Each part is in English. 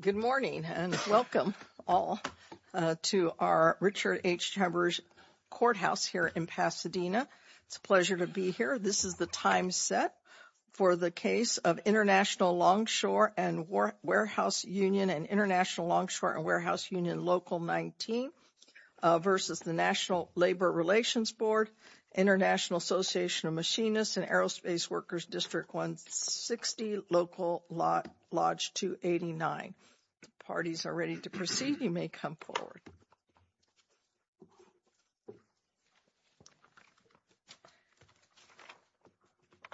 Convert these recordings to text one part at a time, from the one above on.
Good morning and welcome all to our Richard H. Chambers Courthouse here in Pasadena. It's a pleasure to be here. This is the time set for the case of International Longshore and Warehouse Union and International Longshore and Warehouse Union Local 19 versus the National Labor Relations Board, International Association of Machinists and Aerospace Workers District 160 Local Lodge 289. Parties are ready to proceed. You may come forward.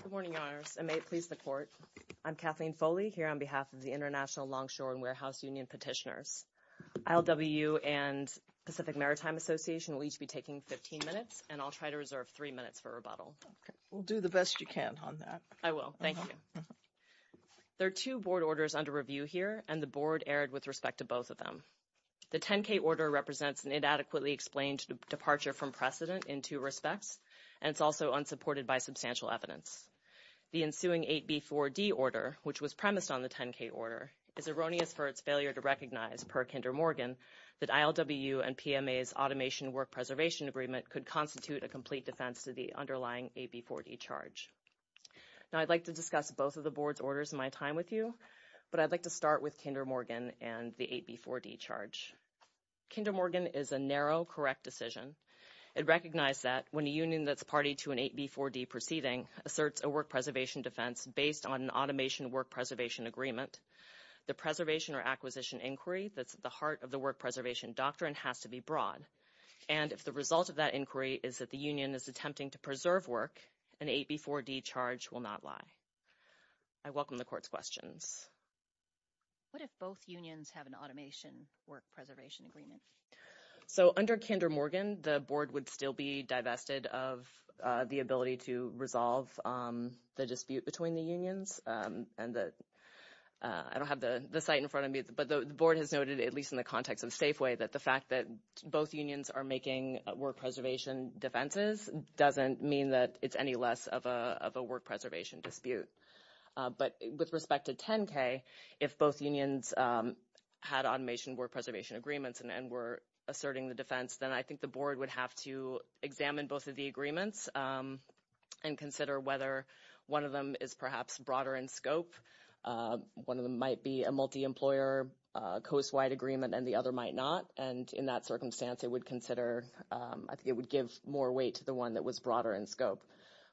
Good morning, Your Honor. I may please report. I'm Kathleen Foley here on behalf of the International Longshore and Warehouse Union petitioners. ILWU and Pacific Maritime Association will each be taking 15 minutes and I'll try to reserve three minutes for rebuttal. We'll do the best you can on that. I will. Thank you. There are two board orders under review here and the board erred with respect to both of them. The 10k order represents an inadequately explained departure from precedent in two respects and it's also unsupported by substantial evidence. The ensuing 8b4d order which was premised on the 10k order is erroneous for its failure to recognize per Kinder Morgan that ILWU and PMA's automation work preservation agreement could constitute a complete defense to the underlying 8b4d charge. Now I'd like to discuss both of the and the 8b4d charge. Kinder Morgan is a narrow correct decision. It recognized that when a union that's party to an 8b4d proceeding asserts a work preservation defense based on an automation work preservation agreement, the preservation or acquisition inquiry that's at the heart of the work preservation doctrine has to be broad and if the result of that inquiry is that the union is attempting to preserve work, an 8b4d charge will not lie. I welcome the court's questions. What if both unions have an automation work preservation agreement? So under Kinder Morgan, the board would still be divested of the ability to resolve the dispute between the unions and that I don't have the site in front of me but the board has noted at least in the context of Safeway that the fact that both unions are making work preservation defenses doesn't mean that it's any less of a work preservation dispute. But with respect to 10k, if both unions had automation work preservation agreements and were asserting the defense, then I think the board would have to examine both of the agreements and consider whether one of them is perhaps broader in scope. One of them might be a multi-employer coast-wide agreement and the other might not and in that circumstance it would consider, I think it would give more weight to the one that was broader in scope.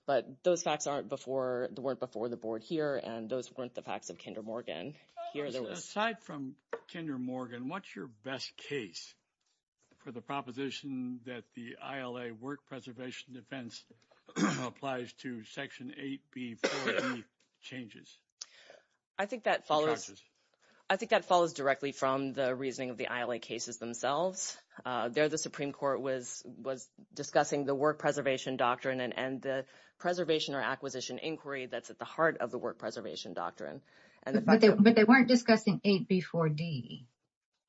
But those facts aren't before, weren't before the board here and those weren't the facts of Kinder Morgan. Aside from Kinder Morgan, what's your best case for the proposition that the ILA work preservation defense applies to section 8b4d changes? I think that follows, I think that follows directly from the reasoning of the ILA cases themselves. There the Supreme Court was discussing the work preservation doctrine and the preservation or acquisition inquiry that's at the heart of the work preservation doctrine. But they weren't discussing 8b4d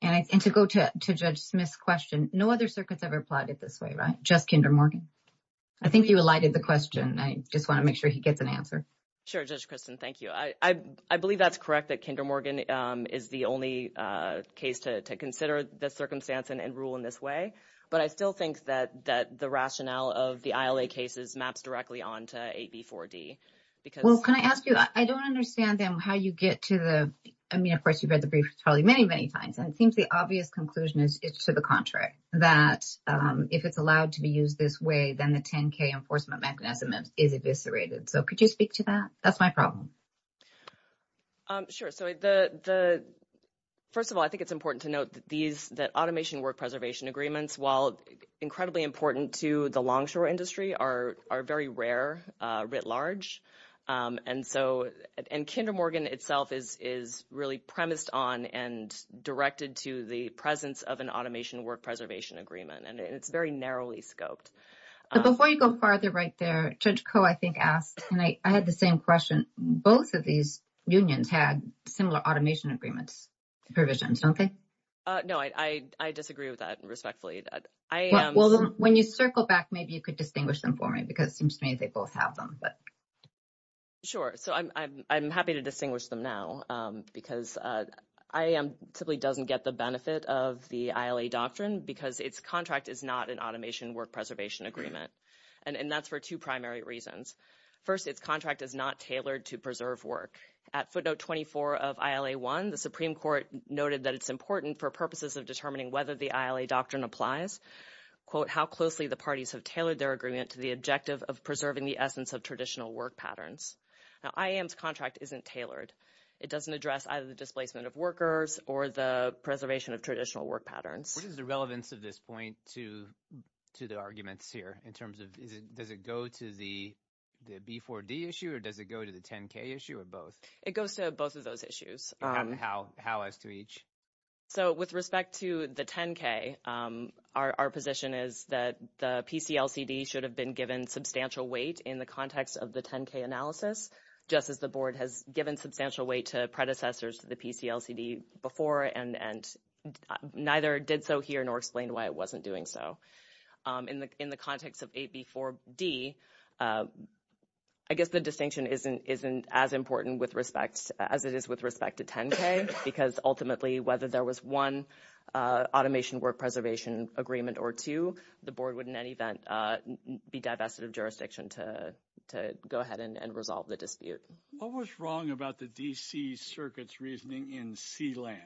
and to go to Judge Smith's question, no other circuits ever applied it this way, right? Just Kinder Morgan. I think you alighted the question. I just want to make sure he gets an answer. Sure, Judge Kristen, thank you. I believe that's correct that Kinder Morgan is the only case to consider the circumstance and rule in this way. But I still think that the rationale of the ILA cases maps directly on to 8b4d. Well, can I ask you, I don't understand how you get to the, I mean of course you've read the briefs probably many, many times and it seems the obvious conclusion is to the contrary. That if it's allowed to be used this way then the 10k enforcement mechanism is eviscerated. So could you speak to that? That's my problem. Sure, so the first of all I think it's important to note that automation work preservation agreements, while incredibly important to the longshore industry, are very rare writ large. And Kinder Morgan itself is really premised on and directed to the presence of an automation work preservation agreement and it's very narrowly scoped. So before you go farther right there, Judge Koh I think asked, and I had the same question, both of these unions had similar automation agreements provisions, don't they? No, I disagree with that respectfully. Well, when you circle back maybe you could distinguish them for me because it seems to me they both have them. Sure, so I'm happy to distinguish them now because IAM typically doesn't get the benefit of the ILA doctrine because its contract is not an automation work preservation agreement. And that's for two primary reasons. First, its contract is not tailored to preserve work. At footnote 24 of ILA 1 the Supreme Court noted that it's important for purposes of determining whether the ILA doctrine applies, quote, how closely the parties have tailored their agreement to the objective of preserving the essence of traditional work patterns. Now IAM's contract isn't tailored. It doesn't address either the displacement of workers or the preservation of traditional work patterns. What is the relevance of this point to the arguments here in terms of does it go to the B4D issue or does it go to the 10-K issue or both? It goes to both of those issues. How as to each? So with respect to the 10-K our position is that the PCLCD should have been given substantial weight in the context of the 10-K analysis just as the board has given substantial weight to predecessors to the PCLCD before and neither did so here nor explained why it wasn't doing so. In the context of AB4D I guess the distinction isn't as important as it is with respect to 10-K because ultimately whether there was one automation work preservation agreement or two the board would in any event be divested of the jurisdiction to go ahead and resolve the dispute. What was wrong about the DC circuit's reasoning in C-Land?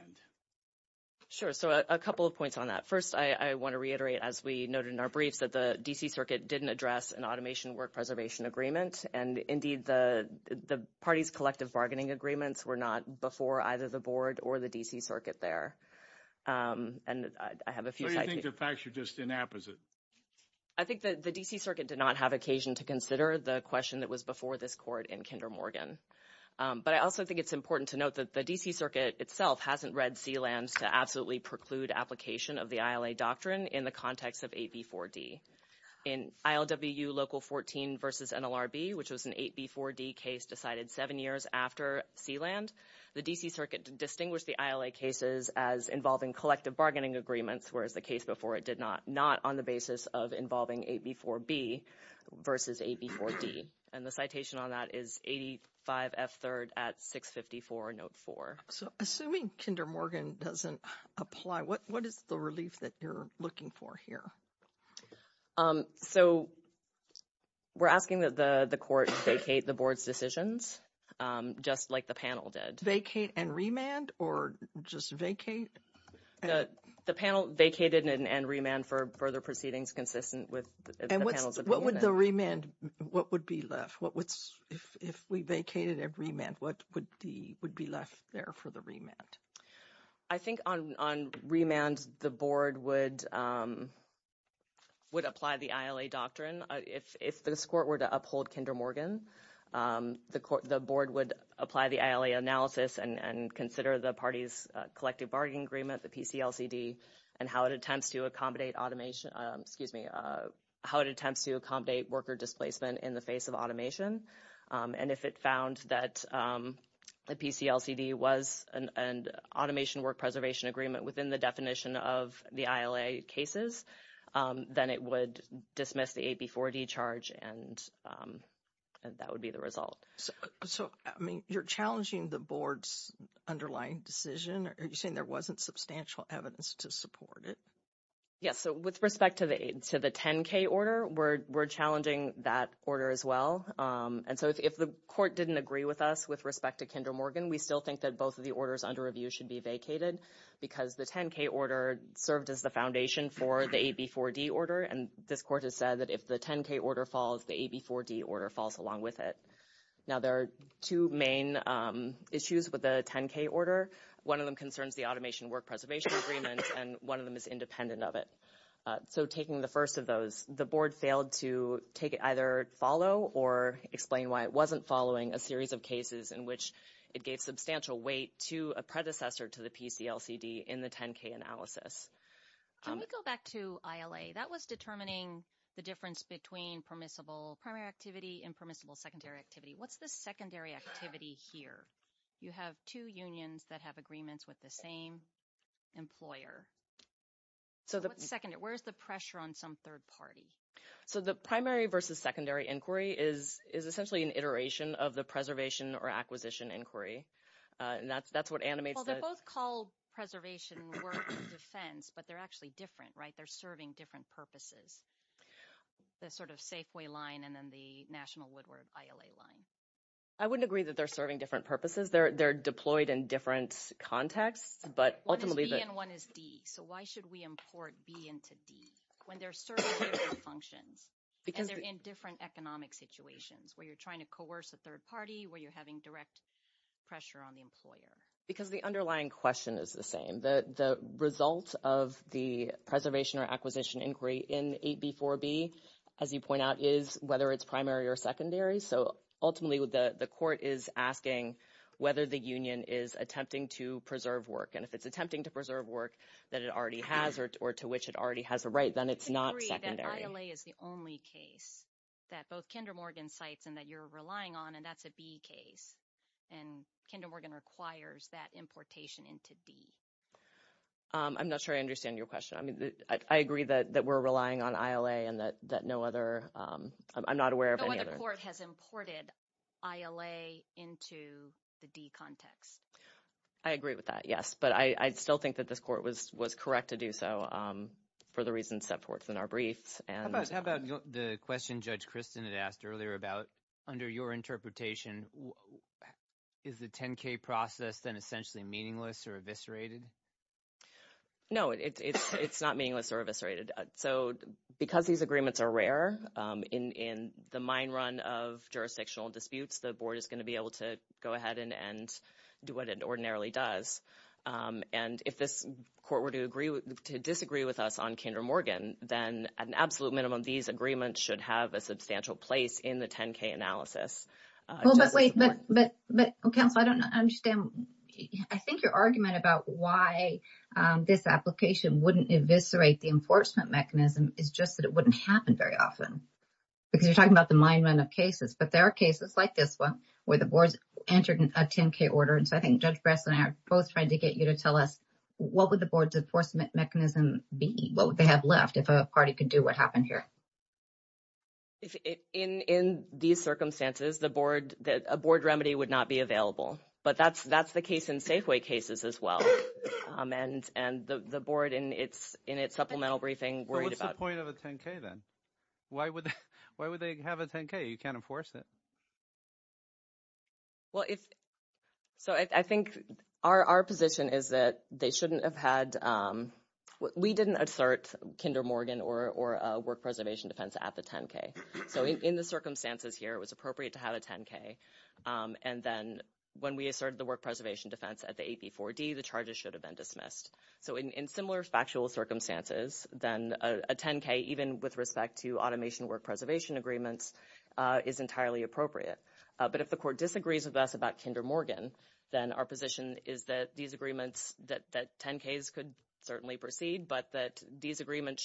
Sure. So a couple of points on that. First I want to reiterate as we noted in our brief that the DC circuit didn't address an automation work preservation agreement and indeed the parties' collective bargaining agreements were not before either the board or the DC circuit there. And I have a few... So you think the facts are just inapposite? I think that the DC circuit did not have occasion to consider the question that was before this court in Kinder Morgan. But I also think it's important to note that the DC circuit itself hasn't read C-Land to absolutely preclude application of the ILA doctrine in the context of AB4D. In ILWU Local 14 versus NLRB which was an AB4D case decided seven years after C-Land, the DC circuit distinguished the ILA cases as involving collective bargaining agreements whereas the case before it did not, not on the basis of involving AB4B versus AB4D. And the citation on that is 85F third at 654 note four. So assuming Kinder Morgan doesn't apply, what is the relief that you're looking for here? So we're asking that the court vacate the board's decisions just like the panel did. Vacate and remand or just vacate? The panel vacated and remanded for further proceedings consistent with the panel's opinion. What would the remand, what would be left? If we vacated and remanded, what would be left there for the remand? I think on remand, the board would apply the ILA doctrine. If this court were to uphold Kinder Morgan, the board would apply the ILA analysis and consider the party's collective bargaining agreement, the PCLCD, and how it attempts to accommodate automation, excuse me, how it attempts to accommodate worker displacement in the face of automation. And if it found that the PCLCD was an automation work preservation agreement within the definition of the ILA cases, then it would dismiss the AB4D charge and that would be the result. So you're challenging the board's underlying decision? Are you saying there wasn't substantial evidence to support it? Yes. So with respect to the 10K order, we're challenging that order as well. And so if the court didn't agree with us with respect to Kinder Morgan, we still think that both of the orders under review should be vacated because the 10K order serves as the foundation for the AB4D order. And this court has said that if the 10K order falls, the AB4D order falls along with it. Now there are two main issues with the 10K order. One of them concerns the automation work preservation agreement, and one of them is independent of it. So taking the first of those, the board failed to take it either follow or explain why it wasn't following a series of cases in which it gave substantial weight to a predecessor to the PCLCD in the 10K analysis. Can we go back to ILA? That was determining the difference between permissible primary activity and permissible secondary activity. What's the secondary activity here? You have two unions that have agreements with the same employer. Where's the pressure on some third party? So the primary versus secondary inquiry is essentially an iteration of the preservation or acquisition inquiry. And that's what animates the... Well, they're both called preservation work defense, but they're actually different, right? They're serving different purposes. The sort of Safeway line and then the National Woodward ILA line. I wouldn't agree that they're serving different purposes. They're deployed in different contexts, but ultimately... One is B and one is D. So why should we import B into D when they're serving the same function and they're in different economic situations where you're trying to coerce a third party, where you're having direct pressure on the employer? Because the underlying question is the same. The result of the preservation or acquisition inquiry in 8B4B, as you point out, is whether it's primary or secondary. So ultimately, the court is asking whether the union is attempting to preserve work. And if it's attempting to preserve work that it already has or to which it already has a right, then it's not... I agree that ILA is the only case that both Kinder Morgan cites and that you're relying on, and that's a B case. And Kinder Morgan requires that importation into B. I'm not sure I understand your question. I mean, I agree that we're relying on ILA and that no other... I'm not aware of any other... The court has imported ILA into the D context. I agree with that, yes. But I still think that this court was correct to do so, for the reasons set forth in our briefs. How about the question Judge Kristen had earlier about, under your interpretation, is the 10K process then essentially meaningless or eviscerated? No, it's not meaningless or eviscerated. So because these agreements are rare, in the mine run of jurisdictional disputes, the board is going to be able to go ahead and do what it ordinarily does. And if this court were to disagree with us on Kinder Morgan, then at an absolute minimum, these agreements should have a substantial place in the 10K analysis. Well, but wait, but I don't understand. I think your argument about why this application wouldn't eviscerate the enforcement mechanism is just that it wouldn't happen very often, because you're talking about the mine run of cases. But there are cases like this one, where the board entered a 10K order. And so I think Judge Gress and I are both trying to get you to tell us, what would the board's enforcement mechanism be? What would they have left if a party could do what happened here? In these circumstances, a board remedy would not be available. But that's the case in Safeway cases as well. And the board, in its supplemental briefing, worried about- What's the point of a 10K then? Why would they have a 10K? You can't enforce it. Well, so I think our position is that they shouldn't have had... We didn't assert Kinder Morgan or a work preservation defense at the 10K. So in the circumstances here, it was appropriate to have a 10K. And then when we asserted the work preservation defense at the AP4D, the charges should have been dismissed. So in similar factual circumstances, then a 10K, even with respect to automation work preservation agreements, is entirely appropriate. But if the court disagrees with us about Kinder Morgan, then our position is that these agreements, that 10Ks could certainly proceed, but that these agreements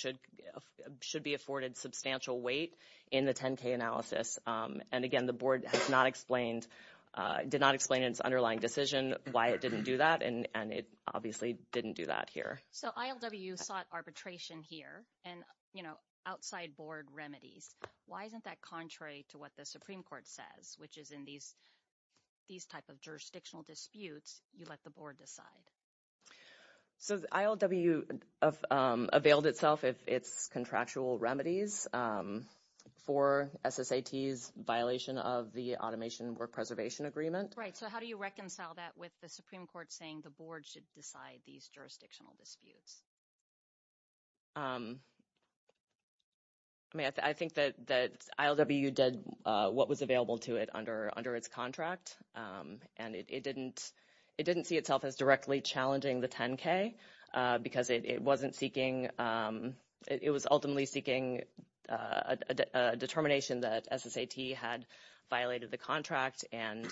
should be afforded substantial weight in the 10K analysis. And again, the board did not explain in its underlying decision why it didn't do that. And it obviously didn't do that here. So ILWU sought arbitration here and outside board remedies. Why isn't that contrary to what the Supreme Court says, which is in these types of jurisdictional disputes, you let the board decide? So ILWU availed itself of its contractual remedies for SSATs violation of the automation work preservation agreement. Right. So how do you reconcile that with the Supreme Court saying the board should decide these jurisdictional disputes? I mean, I think that ILWU did what was available to it under its contract. And it didn't see itself as directly challenging the 10K because it wasn't seeking, it was ultimately seeking a determination that SSAT had violated the contract. And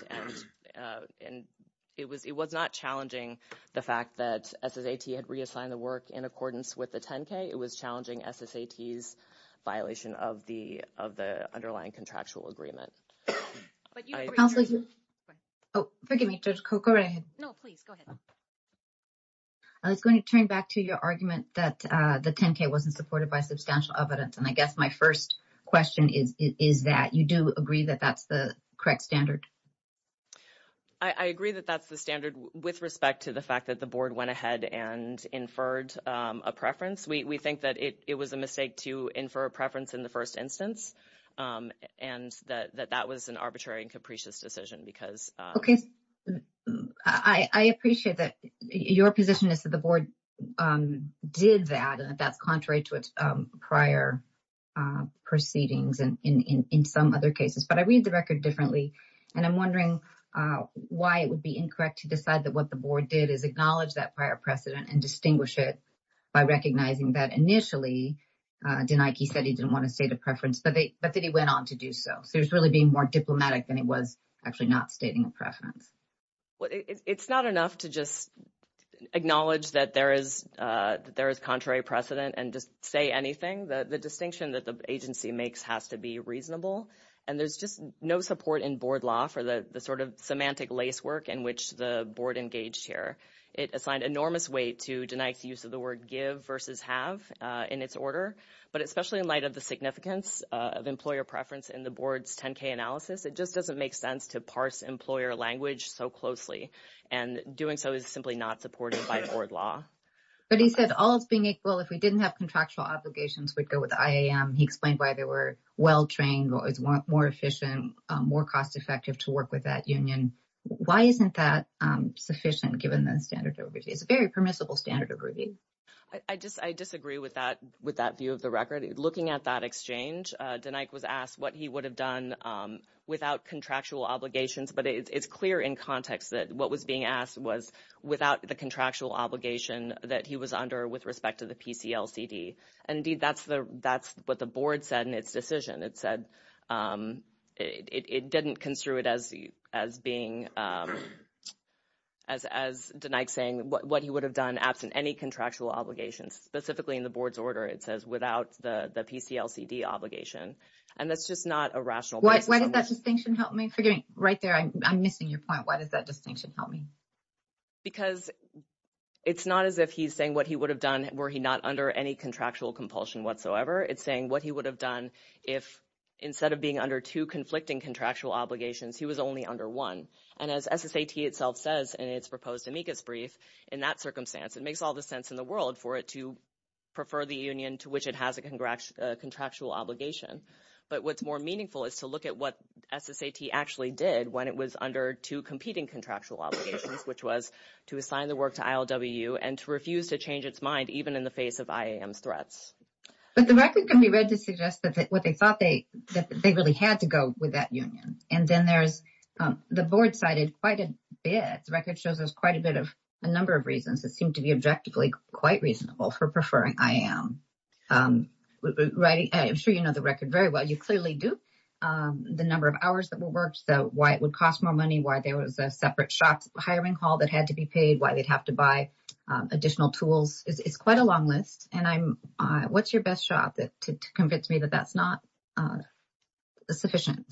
it was not challenging the fact that SSAT had reassigned the work in accordance with the 10K. It was challenging SSATs violation of the underlying contractual agreement. Oh, forgive me. No, please go ahead. I was going to turn back to your argument that the 10K wasn't supported by substantial evidence. And I guess my first question is that you do agree that that's the correct standard. I agree that that's the standard with respect to the fact that the board went ahead and inferred a preference. We think that it was a mistake to infer a preference in the first instance and that that was an arbitrary and capricious decision because... Okay. I appreciate that your position is that the board did that and that's contrary to its prior proceedings and in some other cases, but I read the record differently. And I'm wondering why it would be incorrect to decide that what the board did is acknowledge that prior precedent and distinguish it by recognizing that initially Denaiki said he didn't want to say the preference, but then he went on to do so. He was really being more diplomatic than he was actually not stating a preference. Well, it's not enough to just acknowledge that there is contrary precedent and say anything. The distinction that the agency makes has to be reasonable. And there's just no support in board law for the sort of semantic lacework in which the board engaged here. It assigned enormous weight to Denaiki's use of give versus have in its order, but especially in light of the significance of employer preference in the board's 10K analysis, it just doesn't make sense to parse employer language so closely. And doing so is simply not supported by the board law. But he said, all is being equal. If we didn't have contractual obligations, we'd go with IAM. He explained why they were well-trained, more efficient, more cost-effective to work with that union. Why isn't that sufficient given those very permissible standards of review? I disagree with that view of the record. Looking at that exchange, Denaiki was asked what he would have done without contractual obligations. But it's clear in context that what was being asked was without the contractual obligation that he was under with respect to the PCLCD. And that's what the board said in saying what he would have done absent any contractual obligations. Specifically in the board's order, it says without the PCLCD obligation. And that's just not a rational point. Why does that distinction help me? Right there, I'm missing your point. Why does that distinction help me? Because it's not as if he's saying what he would have done were he not under any contractual compulsion whatsoever. It's saying what he would have done if instead of being under two conflicting contractual obligations, he was only under one. And as SSAT itself says in its brief, in that circumstance, it makes all the sense in the world for it to prefer the union to which it has a contractual obligation. But what's more meaningful is to look at what SSAT actually did when it was under two competing contractual obligations, which was to assign the work to ILWU and to refuse to change its mind even in the face of IAM threats. But the record can be read to suggest that what they thought they really had to go with that union. And then there's the board side is quite a bit. The record shows us quite a bit of a number of reasons that seem to be objectively quite reasonable for preferring IAM. I'm sure you know the record very well. You clearly do. The number of hours that were worked, why it would cost more money, why there was a separate shop hiring call that had to be paid, why they'd have to buy additional tools. It's quite a long list. And what's your best shot to convince me that that's not sufficient?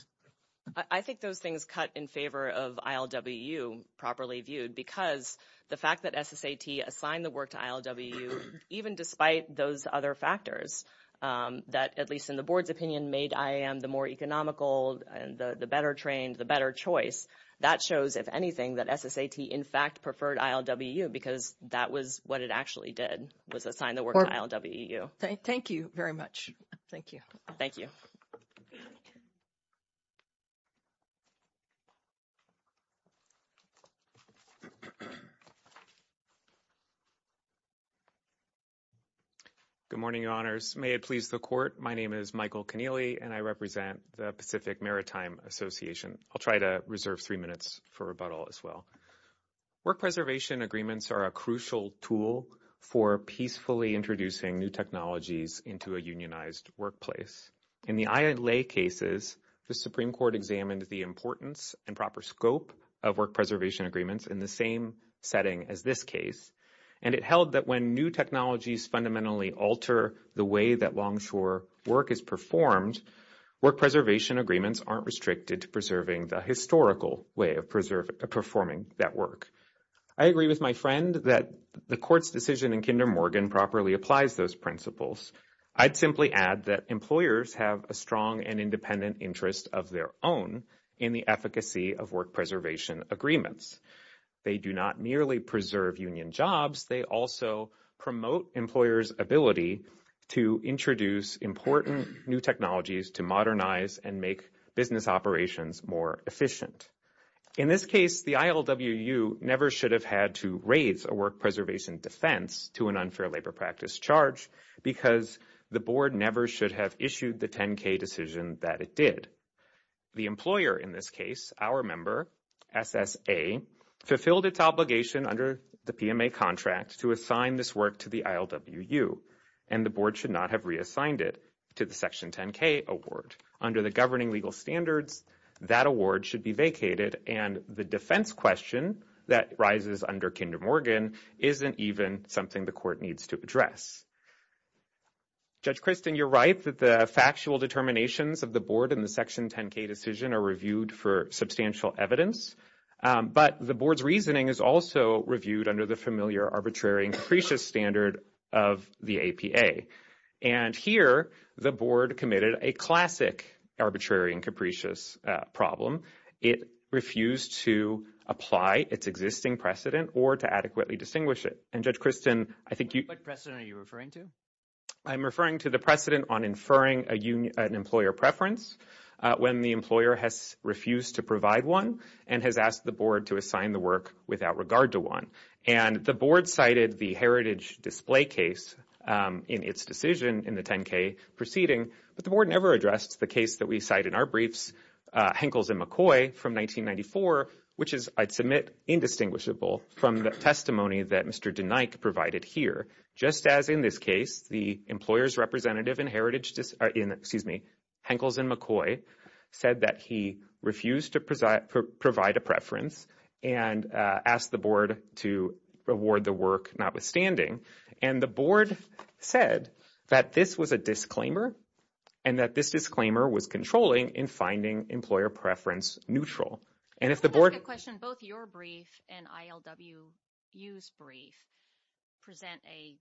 I think those things cut in favor of ILWU properly viewed because the fact that SSAT assigned the work to ILWU, even despite those other factors that, at least in the board's opinion, made IAM the more economical, the better trained, the better choice, that shows, if anything, that SSAT in fact preferred ILWU because that was what it actually did, was assign the work to ILWU. Thank you very much. Thank you. Thank you. Good morning, your honors. May it please the court. My name is Michael Keneally, and I represent the Pacific Maritime Association. I'll try to reserve three minutes for rebuttal as well. Work preservation agreements are a crucial tool for peacefully introducing new technologies into a unionized workplace. In the ILA cases, the Supreme Court examined the importance and proper scope of work preservation agreements in the same setting as this case, and it held that when new technologies fundamentally alter the way that longshore work is performed, work preservation agreements aren't restricted to preserving the historical way of performing that work. I agree with my friend that the court's decision in Kinder Morgan properly applies those principles. I'd simply add that employers have a strong and independent interest of their own in the efficacy of work preservation agreements. They do not merely preserve union jobs. They also promote employers' ability to introduce important new technologies to modernize and make business operations more efficient. In this case, the ILWU never should have had to raise a work preservation defense to an unfair labor practice charge because the board never should have issued the 10-K decision that it did. The employer in this case, our member, SSA, fulfilled its obligation under the PMA contract to assign this work to the ILWU, and the board should not have reassigned it to the Section 10-K award. Under the governing legal standards, that award should be vacated, and the defense question that rises under Kinder Morgan isn't even something the court needs to address. Judge Christin, you're right that the factual determinations of the board in the Section 10-K decision are reviewed for substantial evidence, but the board's reasoning is also reviewed under the familiar arbitrary and capricious standard of the APA. Here, the board committed a classic arbitrary and capricious problem. It refused to apply its existing precedent or to adequately distinguish it. Judge Christin, I think you— What precedent are you referring to? I'm referring to the precedent on inferring an employer preference when the employer has refused to provide one and has asked the board to assign the work without regard to one. The board cited the heritage display case in its decision in the 10-K proceeding, but the board never addressed the case that we cite in our briefs, Henkels and McCoy from 1994, which is, I'd submit, indistinguishable from the testimony that Mr. DeNike provided here. Just as in this case, the employer's representative in Henkels and McCoy said that he refused to provide a preference and asked the board to reward the work notwithstanding. The board said that this was a disclaimer and that this disclaimer was controlling in finding employer preference neutral. If the board— I question both your brief and ILWU's brief present a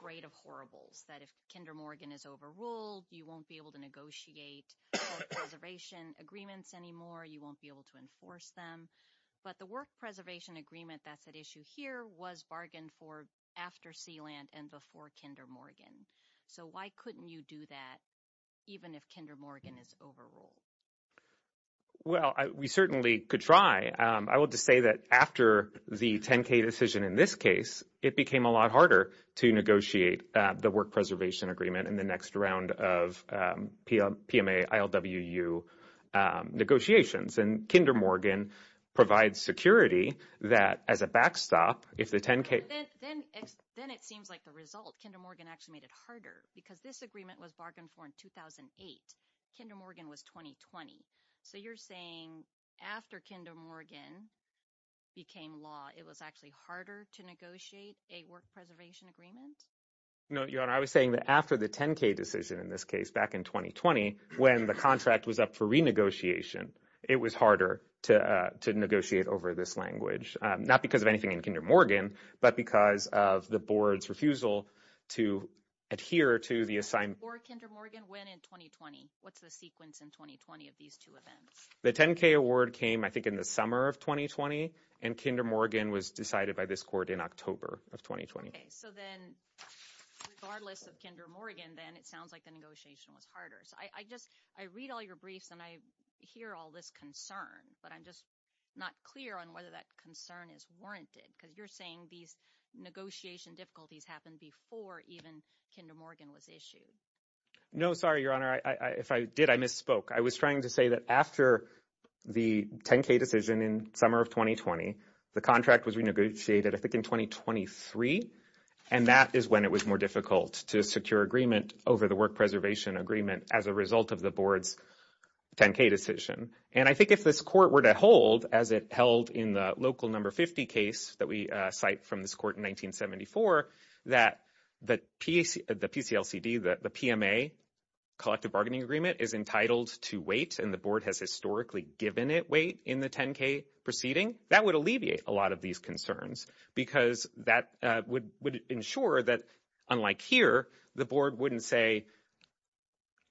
parade of horribles, that if Kinder Morgan is overruled, you won't be able to negotiate preservation agreements anymore. You won't be able to enforce them. But the work preservation agreement that's at issue here was bargained for after Sealand and before Kinder Morgan. So why couldn't you do that even if Kinder Morgan is overruled? Well, we certainly could try. I will just say that after the 10-K decision in this case, it became a lot harder to negotiate the work preservation agreement in the next round of PMA-ILWU negotiations. And Kinder Morgan provides security that as a backstop, if the 10-K— Then it seems like the result, Kinder Morgan actually made it harder because this agreement was bargained for in 2008. Kinder Morgan was 2020. So you're saying after Kinder Morgan became law, it was actually harder to negotiate a work preservation agreement? No, your honor. I was saying that after the 10-K decision in this case back in 2020, when the contract was up for renegotiation, it was harder to negotiate over this language, not because of anything in Kinder Morgan, but because of the board's refusal to adhere to the assigned— Before Kinder Morgan, when in 2020? What's the sequence in 2020 of these two events? The 10-K award came, I think, in the summer of 2020, and Kinder Morgan was decided by this in October of 2020. Okay. So then regardless of Kinder Morgan, then it sounds like the negotiation was harder. I read all your briefs and I hear all this concern, but I'm just not clear on whether that concern is warranted because you're saying these negotiation difficulties happened before even Kinder Morgan was issued. No, sorry, your honor. If I did, I misspoke. I was trying to say that after the 10-K decision in summer of 2020, the contract was renegotiated, I think, in 2023, and that is when it was more difficult to secure agreement over the work preservation agreement as a result of the board's 10-K decision. And I think if this court were to hold, as it held in the local number 50 case that we cite from this court in 1974, that the PCLCD, the PMA, collective bargaining agreement, is entitled to wait and the board has given it wait in the 10-K proceeding, that would alleviate a lot of these concerns because that would ensure that, unlike here, the board wouldn't say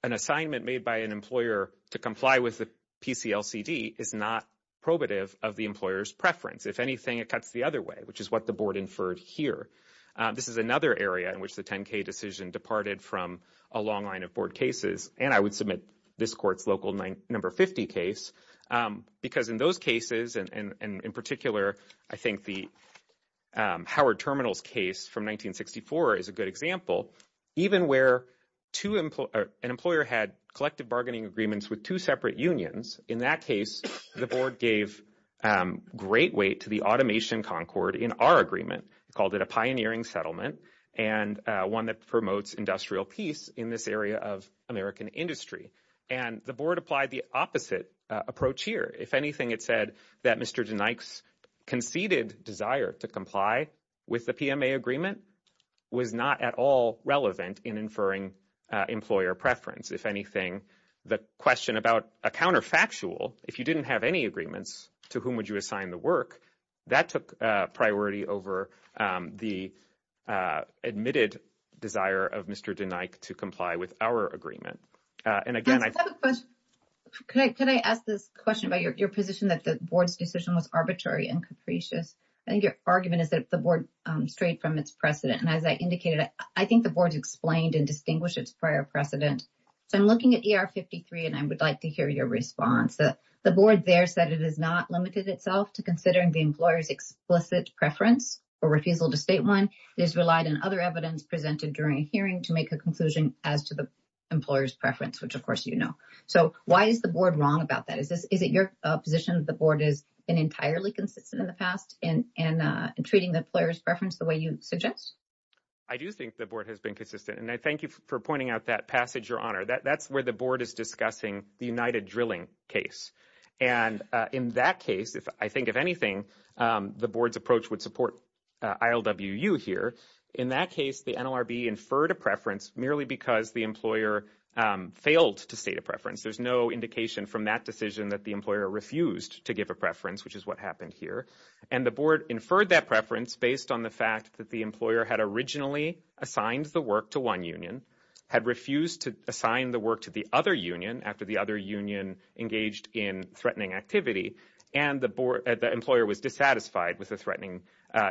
an assignment made by an employer to comply with the PCLCD is not probative of the employer's preference. If anything, it cuts the other way, which is what the board inferred here. This is another area in which the 10-K decision departed from a long line of board cases, and I would submit this court's local number 50 case, because in those cases, and in particular, I think the Howard Terminals case from 1964 is a good example, even where an employer had collective bargaining agreements with two separate unions, in that case, the board gave great weight to the automation concord in our agreement, called it a pioneering settlement and one that promotes industrial peace in this area of American industry, and the board applied the opposite approach here. If anything, it said that Mr. DeNike's conceded desire to comply with the PMA agreement was not at all relevant in inferring employer preference. If anything, the question about a counterfactual, if you didn't have any agreements, to whom would you assign the work, that took priority over the admitted desire of Mr. DeNike to comply with our agreement? And again, I've got a question. Could I ask this question about your position that the board's decision was arbitrary and capricious? I think your argument is that the board strayed from its precedent, and as I indicated, I think the board explained and distinguished its prior precedent. I'm looking at ER 53, and I would like to hear your response. The board there said it has not limited itself to considering the explicit preference or refusal to state one. It has relied on other evidence presented during a hearing to make a conclusion as to the employer's preference, which of course you know. So why is the board wrong about that? Is it your position that the board has been entirely consistent in the past in treating the employer's preference the way you suggest? I do think the board has been consistent, and I thank you for pointing out that passage, Your Honor. That's where the board is discussing the United Drilling case, and in that case, I think if anything, the board's approach would support ILWU here. In that case, the NLRB inferred a preference merely because the employer failed to state a preference. There's no indication from that decision that the employer refused to give a preference, which is what happened here. And the board inferred that preference based on the fact that the employer had originally assigned the work to one union, had refused to assign the work to the other union after the other union engaged in threatening activity, and the employer was dissatisfied with the threatening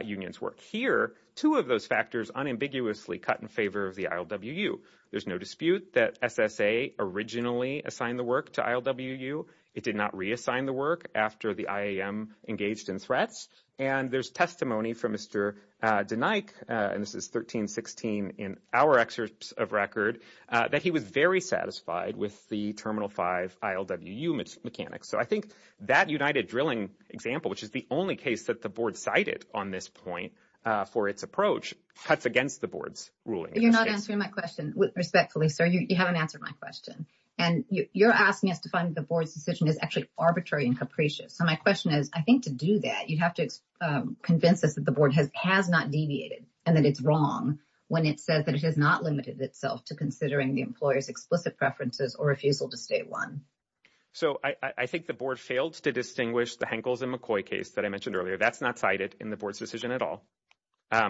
union's work. Here, two of those factors unambiguously cut in favor of the ILWU. There's no dispute that SSA originally assigned the work to ILWU. It did not reassign the work after the IAM engaged in threats, and there's testimony from Mr. DeNike, and this is 1316 in our excerpts of record, that he was very satisfied with the Terminal 5 ILWU mechanics. So I think that United Drilling example, which is the only case that the board cited on this point for its approach, cuts against the board's ruling. You're not answering my question respectfully, sir. You haven't answered my question, and you're asking us to find the board's decision is actually arbitrary and capricious. So my question is, I think to do that, you have to convince us that the board has not deviated, and that it's wrong when it says that it has not limited itself to considering the employer's explicit preferences or refusal to state one. So I think the board failed to distinguish the Henkels and McCoy case that I mentioned earlier. That's not cited in the board's decision at all.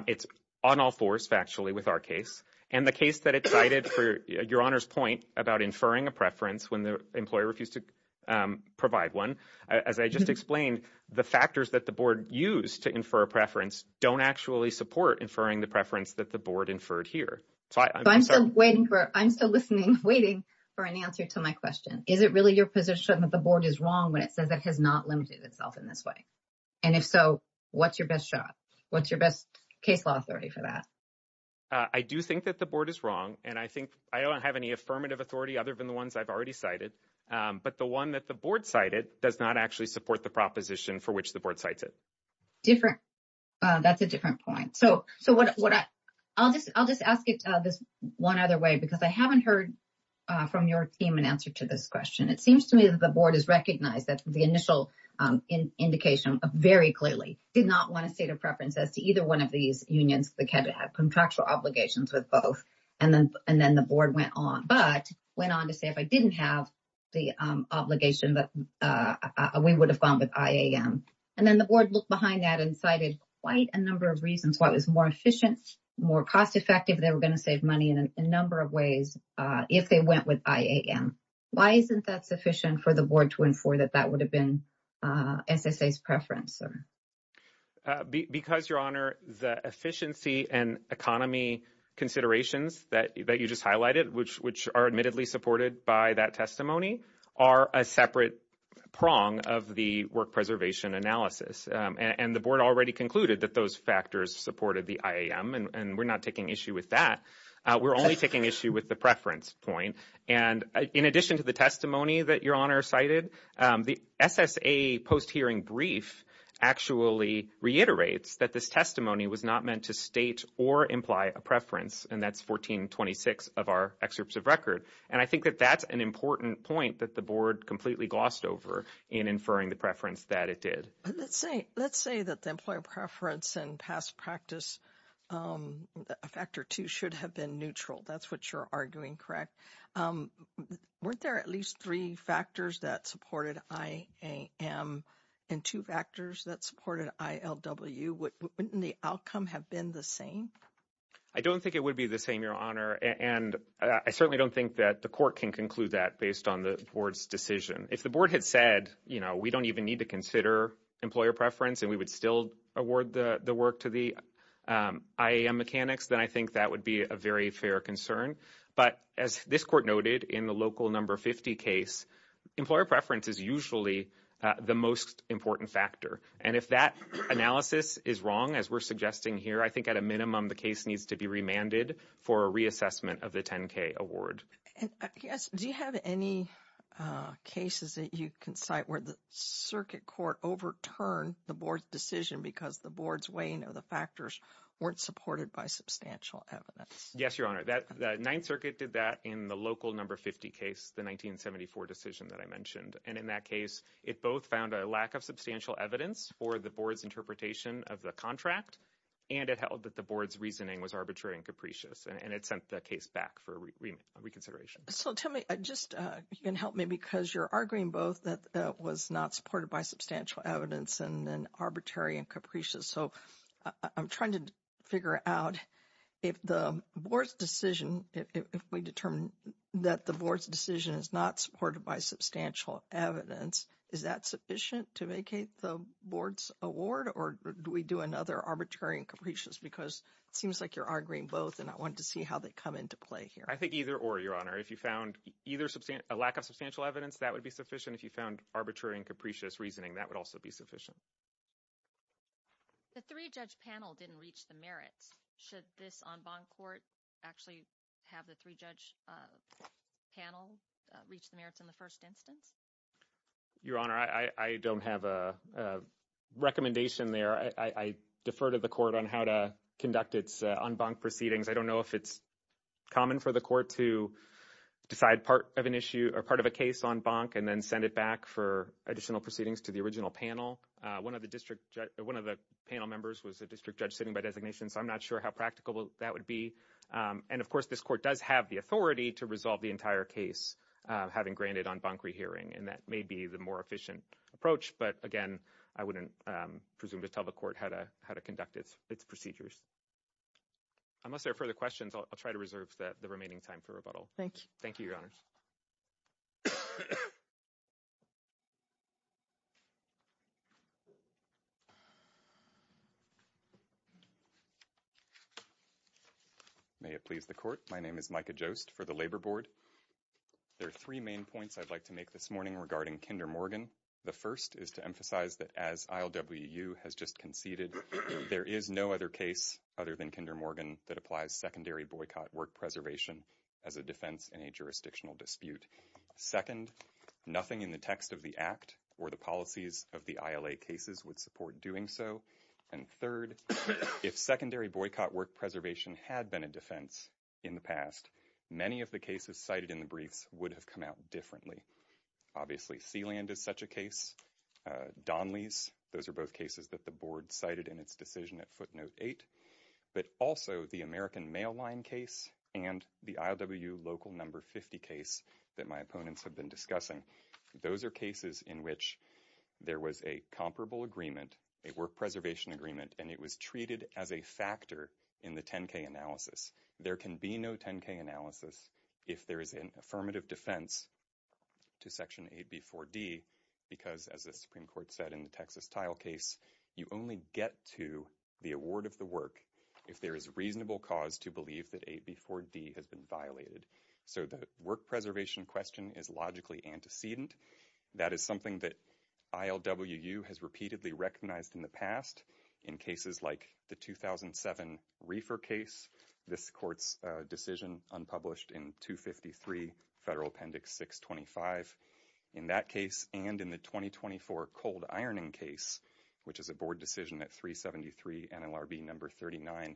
It's on all fours factually with our case, and the case that it cited for your honor's point about inferring a preference when the employer refused to provide one, as I just explained, the factors that the board used to infer a preference don't actually support inferring the preference that the board inferred here. So I'm still waiting for, I'm still listening, waiting for an answer to my question. Is it really your position that the board is wrong when it says it has not limited itself in this way? And if so, what's your best shot? What's your best case law authority for that? I do think that the board is wrong, and I think I don't have any affirmative authority other than the ones I've already cited, but the one that the board cited does not actually support the proposition for which the board cites it. Different. That's a different point. So, so what, what I'll just, I'll just ask it this one other way, because I haven't heard from your team an answer to this question. It seems to me that the board has recognized that the initial indication very clearly did not want to state a preference as to either one of these unions that had contractual obligations with both, and then, and then the board went on, but went on to say if I didn't have the obligation that we would have gone with IAM. And then the board looked behind that and cited quite a number of reasons why it was more efficient, more cost effective, they were going to save money in a number of ways if they went with IAM. Why isn't that sufficient for the board to inform that that would have been SSA's preference? Because, Your Honor, the efficiency and economy considerations that you just highlighted, which are admittedly supported by that testimony, are a separate prong of the work preservation analysis. And the board already concluded that those factors supported the IAM, and we're not taking issue with that. We're only taking issue with the preference point. And in addition to the testimony that Your Honor cited, the SSA post-hearing brief actually reiterates that this testimony was not meant to state or imply a preference, and that's 1426 of our excerpts of record. And I think that that's an important point that the board completely glossed over in inferring the preference that it did. Let's say, let's say that the employer preference and past practice factor two should have been neutral. That's what you're arguing, correct? Weren't there at least three factors that supported IAM and two factors that supported ILW? Wouldn't the outcome have been the same? I don't think it would be the same, Your Honor. And I certainly don't think that the court can conclude that based on the board's decision. If the board had said, you know, we don't even need to consider employer preference and we would still award the work to the IAM mechanics, then I think that would be a very fair concern. But as this court noted in the local number 50 case, employer preference is usually the most important factor. And if that analysis is wrong, as we're suggesting here, I think at a minimum, the case needs to be remanded for a reassessment of the 10K award. Yes. Do you have any cases that you can cite where the circuit court overturned the board's decision because the board's weighing of the factors weren't supported by substantial evidence? Yes, Your Honor. The Ninth Circuit did that in the local number 50 case, the 1974 decision that I mentioned. And in that case, it both found a lack of substantial evidence for the board's interpretation of the contract. And it held that the board's reasoning was arbitrary and capricious. And it sent the case back for reconsideration. So tell me, just you can help me because you're arguing both that that was not supported by substantial evidence and then arbitrary and capricious. So I'm trying to figure out if the board's decision, if we determine that the board's decision is not supported by substantial evidence, is that sufficient to vacate the board's award? Or do we do another arbitrary and capricious? Because it seems like you're arguing both. And I wanted to see how they come into play here. I think either or, Your Honor. If you found either a lack of substantial evidence, that would be sufficient. If you found arbitrary and capricious reasoning, that would also be sufficient. Does this en banc court actually have the three judge panels reach the merits in the first instance? Your Honor, I don't have a recommendation there. I defer to the court on how to conduct its en banc proceedings. I don't know if it's common for the court to decide part of an issue or part of a case en banc and then send it back for additional proceedings to the original panel. One of the district, one of the panel members was a district judge sitting by designation, so I'm not sure how practical that would be. And of course, this court does have the authority to resolve the entire case, having granted en banc rehearing. And that may be the more efficient approach. But again, I wouldn't presume to tell the court how to conduct its procedures. Unless there are further questions, I'll try to reserve the remaining time for rebuttal. Thank you, Your Honor. May it please the court. My name is Micah Jost for the Labor Board. There are three main points I'd like to make this morning regarding Kinder Morgan. The first is to emphasize that as ILWU has just conceded, there is no other case other than Kinder Morgan that applies secondary boycott work preservation as a defense in a jurisdictional dispute. Second, nothing in the text of the act or the policies of the ILA cases would support doing so. And third, if secondary boycott work preservation had been a defense in the past, many of the cases cited in the briefs would have come out differently. Obviously, Sealand is such a case. Donley's, those are both cases that the board cited in its decision at footnote eight. But also the American Mail Line case and the ILWU local number 50 case that my opponents have been discussing. Those are cases in which there was a comparable agreement, a work preservation agreement, and it was treated as a factor in the 10-K analysis. There can be no 10-K analysis if there is an affirmative defense to Section 8B4D because, as the Supreme Court said in the Texas Tile case, you only get to the award of the work if there is reasonable cause to believe that 8B4D has been violated. So the work preservation question is logically antecedent. That is something that ILWU has repeatedly recognized in the past. In cases like the 2007 Reefer case, this court's decision unpublished in 253 Federal Appendix 625. In that case and in the 2024 Cold Ironing case, which is a board decision at 373 NLRB number 39.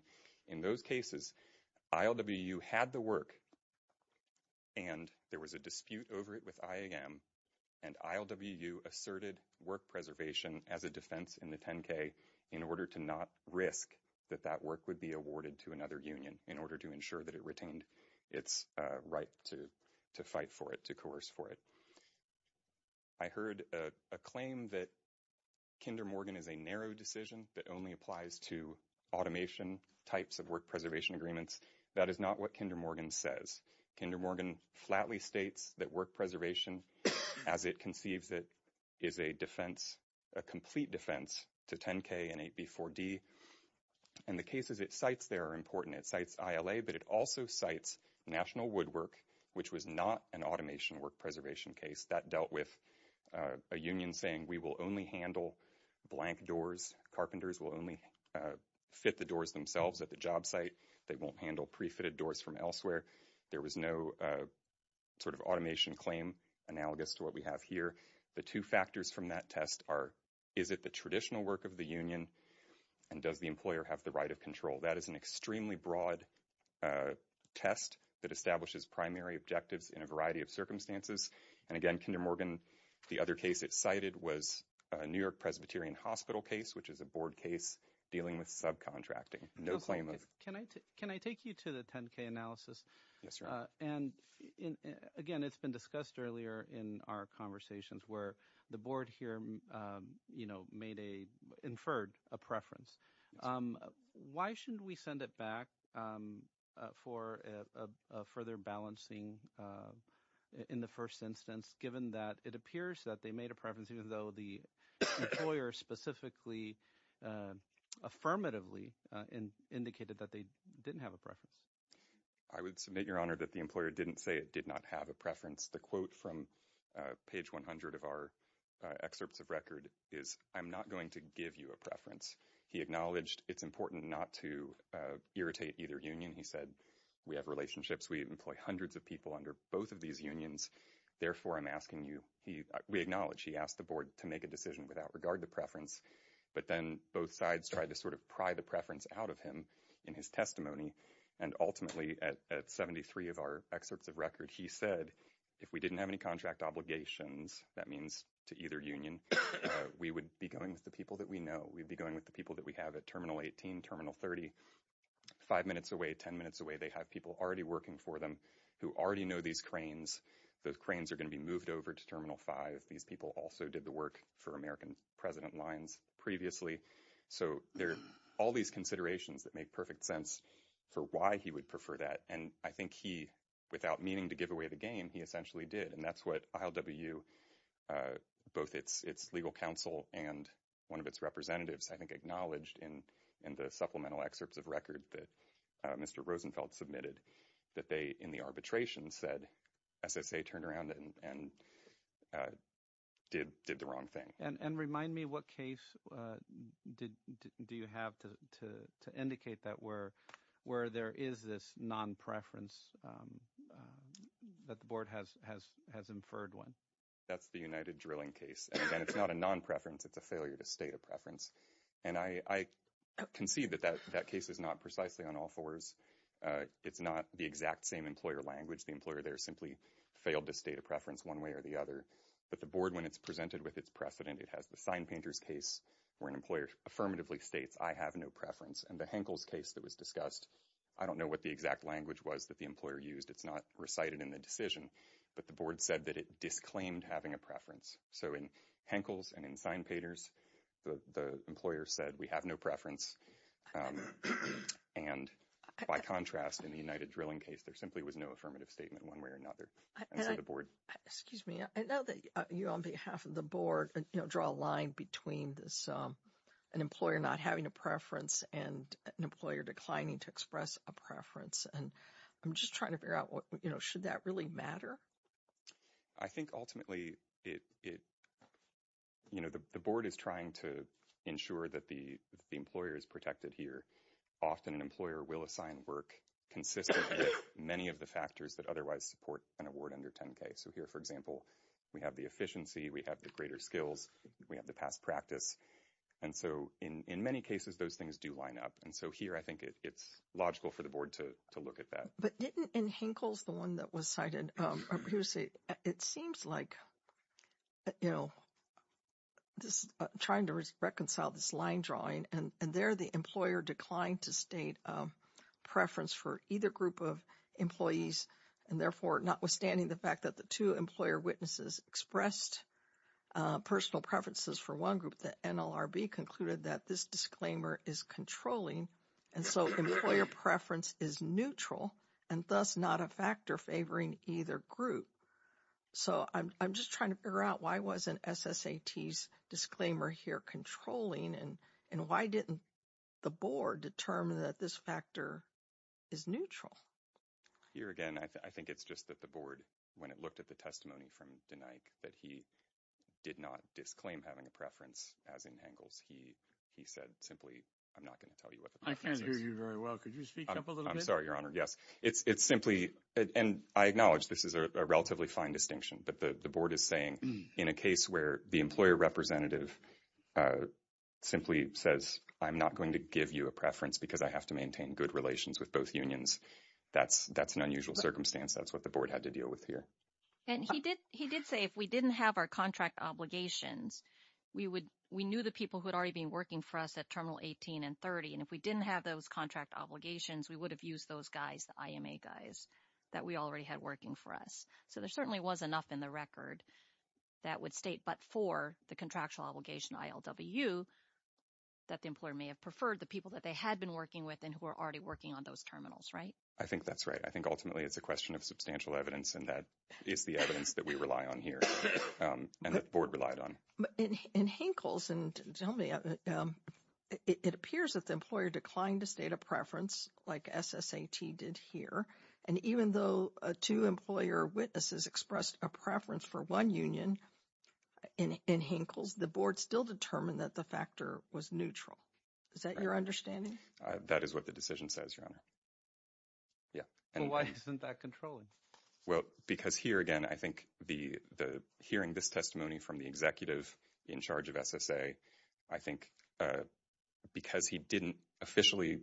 In those cases, ILWU had the work and there was a dispute over it with IAM. And ILWU asserted work preservation as a defense in the 10-K in order to not risk that that work would be awarded to another union in order to ensure that it retained its right to fight for it, to coerce for it. I heard a claim that Kinder Morgan is a narrow decision that only applies to automation types of work preservation agreements. That is not what Kinder Morgan says. Kinder Morgan flatly states that work preservation, as it conceives it, is a defense, a complete defense, to 10-K and 8B4D. And the cases it cites there are important. It cites ILA, but it also cites National Woodwork, which was not an automation work preservation case. That dealt with a union saying we will only handle blank doors. Carpenters will only fit the doors themselves at the job site. They won't handle pre-fitted doors from elsewhere. There was no sort of automation claim analogous to what we have here. The two factors from that test are, is it the traditional work of the union and does the employer have the right of control? That is an extremely broad test that establishes primary objectives in a variety of circumstances. And again, Kinder Morgan, the other case it cited was a New York Presbyterian Hospital case, which is a board case dealing with subcontracting. No claim of- Can I take you to the 10-K analysis? Yes, sir. And again, it's been discussed earlier in our conversations where the board here, you know, made a-inferred a preference. Why shouldn't we send it back for a further balancing in the first instance, given that it appears that they made a preference even though the employer specifically affirmatively indicated that they didn't have a preference? I would submit, Your Honor, that the employer didn't say it did not have a preference. The I'm not going to give you a preference. He acknowledged it's important not to irritate either union. He said, we have relationships. We employ hundreds of people under both of these unions. Therefore, I'm asking you-we acknowledge he asked the board to make a decision without regard to preference. But then both sides tried to sort of pry the preference out of him in his testimony. And ultimately, at 73 of our excerpts of record, he said, if we didn't have any contract obligations, that means to either union, we would be going with the people that we know. We'd be going with the people that we have at Terminal 18, Terminal 30. Five minutes away, 10 minutes away, they have people already working for them who already know these cranes. Those cranes are going to be moved over to Terminal 5. These people also did the work for American President Lyons previously. So there's all these considerations that make perfect sense for why he would prefer that. And I think he, without meaning to give away the game, he essentially did. And that's what ILWU, both its legal counsel and one of its representatives, I think, acknowledged in the supplemental excerpts of record that Mr. Rosenfeld submitted, that they, in the arbitration, said SSA turned around and did the wrong thing. And remind me, what case do you have to indicate that where there is this non-preference that the board has inferred one? That's the United Drilling case. And it's not a non-preference. It's a failure to state a preference. And I concede that that case is not precisely on all fours. It's not the exact same employer language. The employer there simply failed to state a preference one way or the other. But the board, when it's presented with its precedent, it has the sign painter's case where an employer affirmatively states, I have no preference. And the Henkel's case that was discussed, I don't know what the exact language was that the employer used. It's not recited in the decision. But the board said that it disclaimed having a preference. So in Henkel's and in sign painters, the employer said, we have no preference. And by contrast, in the United Drilling case, there simply was no affirmative statement one way or another. And the board- An employer not having a preference and an employer declining to express a preference. And I'm just trying to figure out, should that really matter? I think ultimately, the board is trying to ensure that the employer is protected here. Often, an employer will assign work consistent with many of the factors that otherwise support an award under 10K. So here, for example, we have the efficiency, we have the greater skills, we have the past practice. And so in many cases, those things do line up. And so here, I think it's logical for the board to look at that. But didn't, in Henkel's one that was cited, it seems like, you know, just trying to reconcile this line drawing. And there, the employer declined to state preference for either group of employees. And therefore, notwithstanding the fact that the two employer witnesses expressed personal preferences for one group, the NLRB concluded that this disclaimer is controlling. And so employer preference is neutral, and thus not a factor favoring either group. So I'm just trying to figure out why wasn't SSAT's disclaimer here controlling? And why didn't the board determine that this factor is neutral? Here again, I think it's just that the board, when it looked at the testimony from DeNike, that he did not disclaim having a preference as in Henkel's. He said simply, I'm not going to tell you what the preference is. I can't hear you very well. Could you speak up a little bit? I'm sorry, Your Honor. Yes. It's simply, and I acknowledge this is a relatively fine distinction, but the board is saying in a case where the employer representative simply says, I'm not going to give you a preference because I have to maintain good relations with both unions. That's an unusual circumstance. That's what the board had to deal with here. And he did say, if we didn't have our contract obligations, we knew the people who had already been working for us at Terminal 18 and 30. And if we didn't have those contract obligations, we would have used those guys, the IMA guys, that we already had working for us. So there certainly was enough in the record that would state, but for the contractual obligation ILWU, that the employer may have preferred the people that they had been working with and who were already working on those terminals, right? I think that's right. I think ultimately, it's a question of substantial evidence and that is the evidence that we rely on here and that the board relied on. In Henkel's, and tell me, it appears that the employer declined to state a preference like SSAT did here. And even though two employer witnesses expressed a preference for one union in Henkel's, the board still determined that the factor was neutral. Is that your understanding? That is what the decision says, Your Honor. Yeah. And why isn't that controlling? Well, because here again, I think the hearing this from the executive in charge of SSA, I think because he didn't officially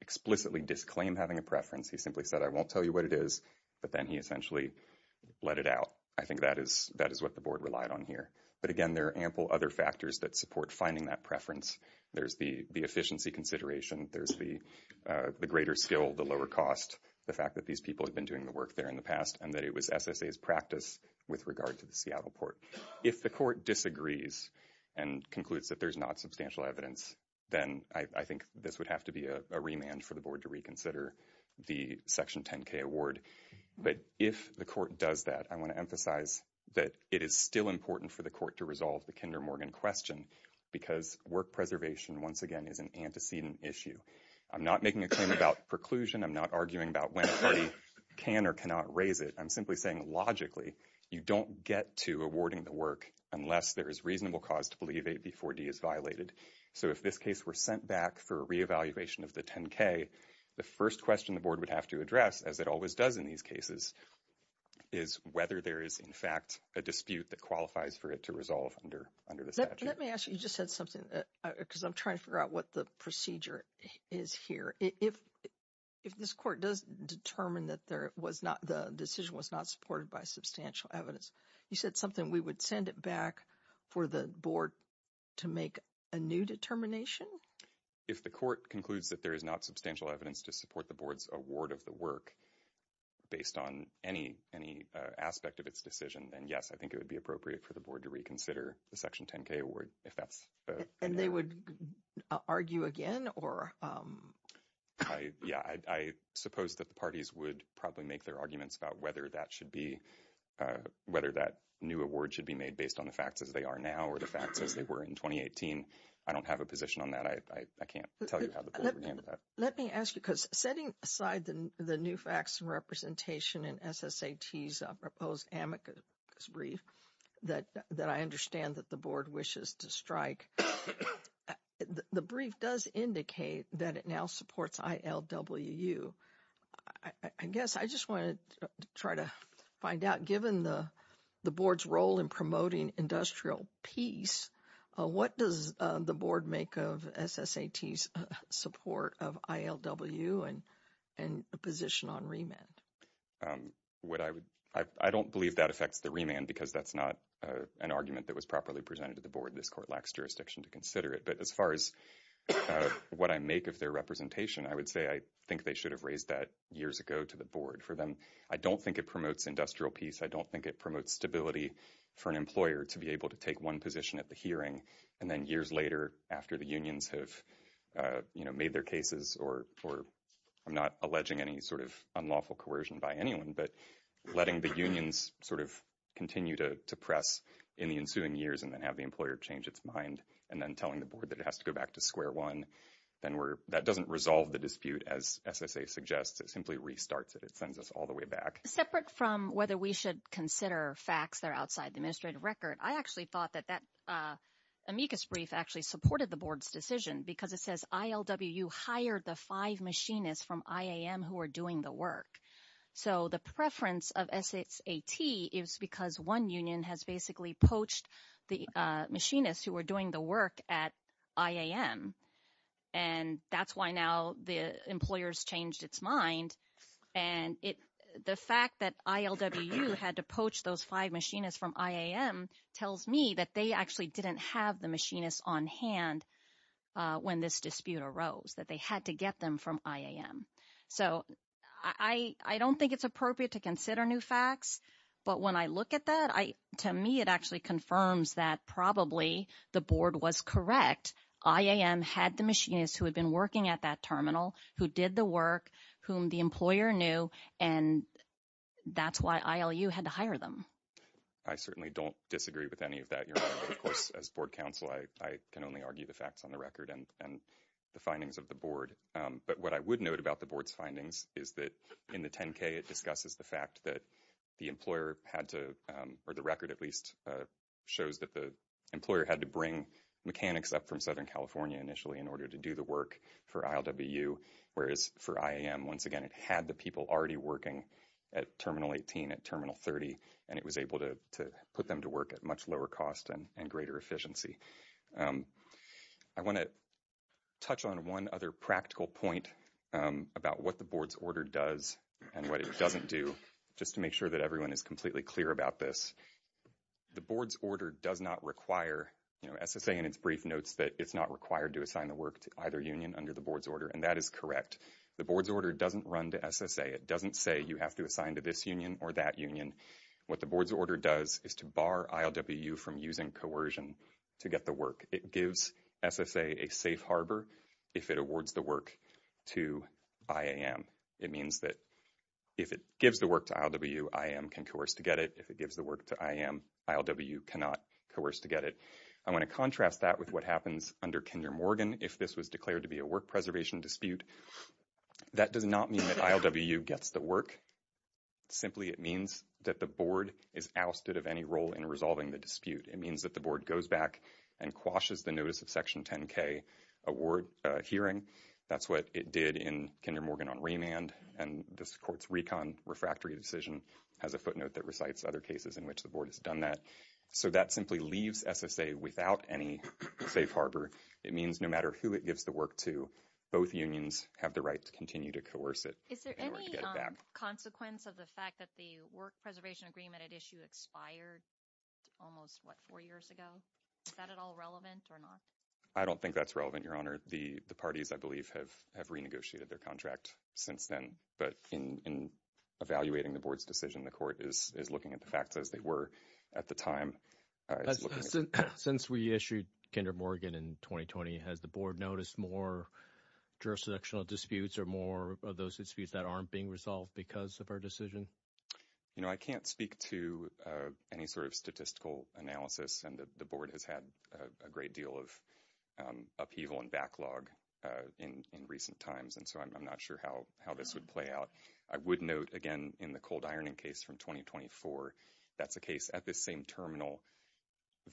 explicitly disclaim having a preference, he simply said, I won't tell you what it is. But then he essentially let it out. I think that is what the board relied on here. But again, there are ample other factors that support finding that preference. There's the efficiency consideration. There's the greater skill, the lower cost, the fact that these people have been doing the work there in the past and it was SSA's practice with regard to the Seattle port. If the court disagrees and concludes that there's not substantial evidence, then I think this would have to be a remand for the board to reconsider the Section 10K award. But if the court does that, I want to emphasize that it is still important for the court to resolve the Kinder Morgan question because work preservation once again is an antecedent issue. I'm not making a claim about preclusion. I'm not arguing about can or cannot raise it. I'm simply saying logically, you don't get to awarding the work unless there is reasonable cause to believe AB4D is violated. So if this case were sent back for a reevaluation of the 10K, the first question the board would have to address as it always does in these cases is whether there is in fact a dispute that qualifies for it to resolve under the statute. Let me ask you, you just said something because I'm trying to figure out what the procedure is here. If this court does determine that the decision was not supported by substantial evidence, you said something we would send it back for the board to make a new determination? If the court concludes that there is not substantial evidence to support the board's award of the work based on any aspect of its decision, then yes, I think it would be more. I suppose that the parties would probably make their arguments about whether that new award should be made based on the fact that they are now or the fact that they were in 2018. I don't have a position on that. I can't tell you. Let me ask you because setting aside the new facts and representation in SSAT's proposed amicus brief that I understand that the board wishes to strike, the brief does indicate that it now supports ILWU. I guess I just want to try to find out given the board's role in promoting industrial peace, what does the board make of SSAT's support of ILWU and the position on remand? I don't believe that affects the remand because that's not an argument that was properly presented to the board. This court lacks jurisdiction to consider it. As far as what I make of their representation, I would say I think they should have raised that years ago to the board. For them, I don't think it promotes industrial peace. I don't think it promotes stability for an employer to be able to take one position at the hearing and then years later after the unions have made their cases or I'm not alleging any sort of unlawful coercion by anyone but letting the unions sort of continue to press in the ensuing years and then have the employer change its mind and then telling the board that it has to go back to square one. That doesn't resolve the dispute as SSA suggests. It simply restarts it. It sends us all the way back. Separate from whether we should consider facts that are outside the administrative record, I actually thought that that amicus brief actually supported the board's decision because it says ILWU hired the five machinists from IAM who are doing the work. So the preference of SSAT is because one union has basically poached the machinists who were doing the work at IAM. And that's why now the employers changed its mind. And the fact that ILWU had to poach those five machinists from IAM tells me that they actually didn't have the machinists on hand when this dispute arose, that they had to get them from IAM. So I don't think it's appropriate to consider new facts, but when I look at that, to me it actually confirms that probably the board was correct. IAM had the machinists who had been working at that terminal, who did the work, whom the employer knew, and that's why ILU had to hire them. I certainly don't disagree with any of that. Of course, as board counsel, I can only argue the facts on the record and the findings of the board. But what I would note about the board's findings is that in the 10k, it discusses the fact that the employer had to, or the record at least, shows that the employer had to bring mechanics up from Southern California initially in order to do the work for ILWU, whereas for IAM, once again, it had the people already working at terminal 18, at terminal 30, and it was able to put them to work at much lower cost and greater efficiency. I want to touch on one other practical point about what the board's order does and what it doesn't do, just to make sure that everyone is completely clear about this. The board's order does not require, SSA in its brief notes, that it's not required to assign the work to either union under the board's order, and that is correct. The board's order doesn't run to SSA. It doesn't say you have to assign to this union or that union. What the board's order does is to bar ILWU from using coercion to get the work. It gives SSA a safe harbor if it awards the work to IAM. It means that if it gives the work to ILWU, IAM can coerce to get it. If it gives the work to IAM, ILWU cannot coerce to get it. I want to contrast that with what happens under Kinder Morgan. If this was declared to be a work preservation dispute, that does not mean that ILWU gets the work. Simply, it means that the board is ousted of any role in resolving the dispute. It means that the board goes back and quashes the notice of Section 10K award hearing. That's what it did in Kinder Morgan on remand, and this court's recon refractory decision has a footnote that recites other cases in which the board has done that. That simply leaves SSA without any safe harbor. It means no matter who it gives the work to, both unions have the right to continue to coerce it. I don't think that's relevant, Your Honor. The parties, I believe, have renegotiated their contract since then, but in evaluating the board's decision, the court is looking at the fact that at the time... Since we issued Kinder Morgan in 2020, has the board noticed more jurisdictional disputes or more of those disputes that aren't being resolved because of our decision? I can't speak to any sort of statistical analysis, and the board has had a great deal of upheaval and backlog in recent times, and so I'm not sure how this would play out. I would note, again, in the cold ironing case from 2024, that's the case at the same terminal,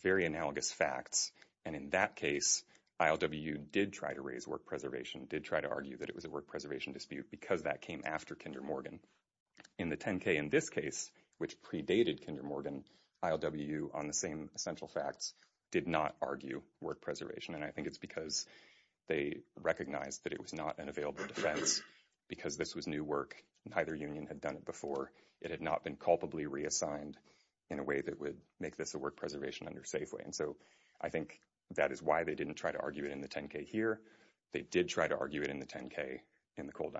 very analogous facts, and in that case, ILWU did try to raise work preservation, did try to argue that it was a work preservation dispute because that came after Kinder Morgan. In the 10K in this case, which predated Kinder Morgan, ILWU, on the same essential facts, did not argue work preservation, and I think it's because they recognized that it was not available to them because this was new work and neither union had done it before. It had not been culpably reassigned in a way that would make this a work preservation under Safeway, and so I think that is why they didn't try to argue it in the 10K here. They did try to argue it in the 10K in the cold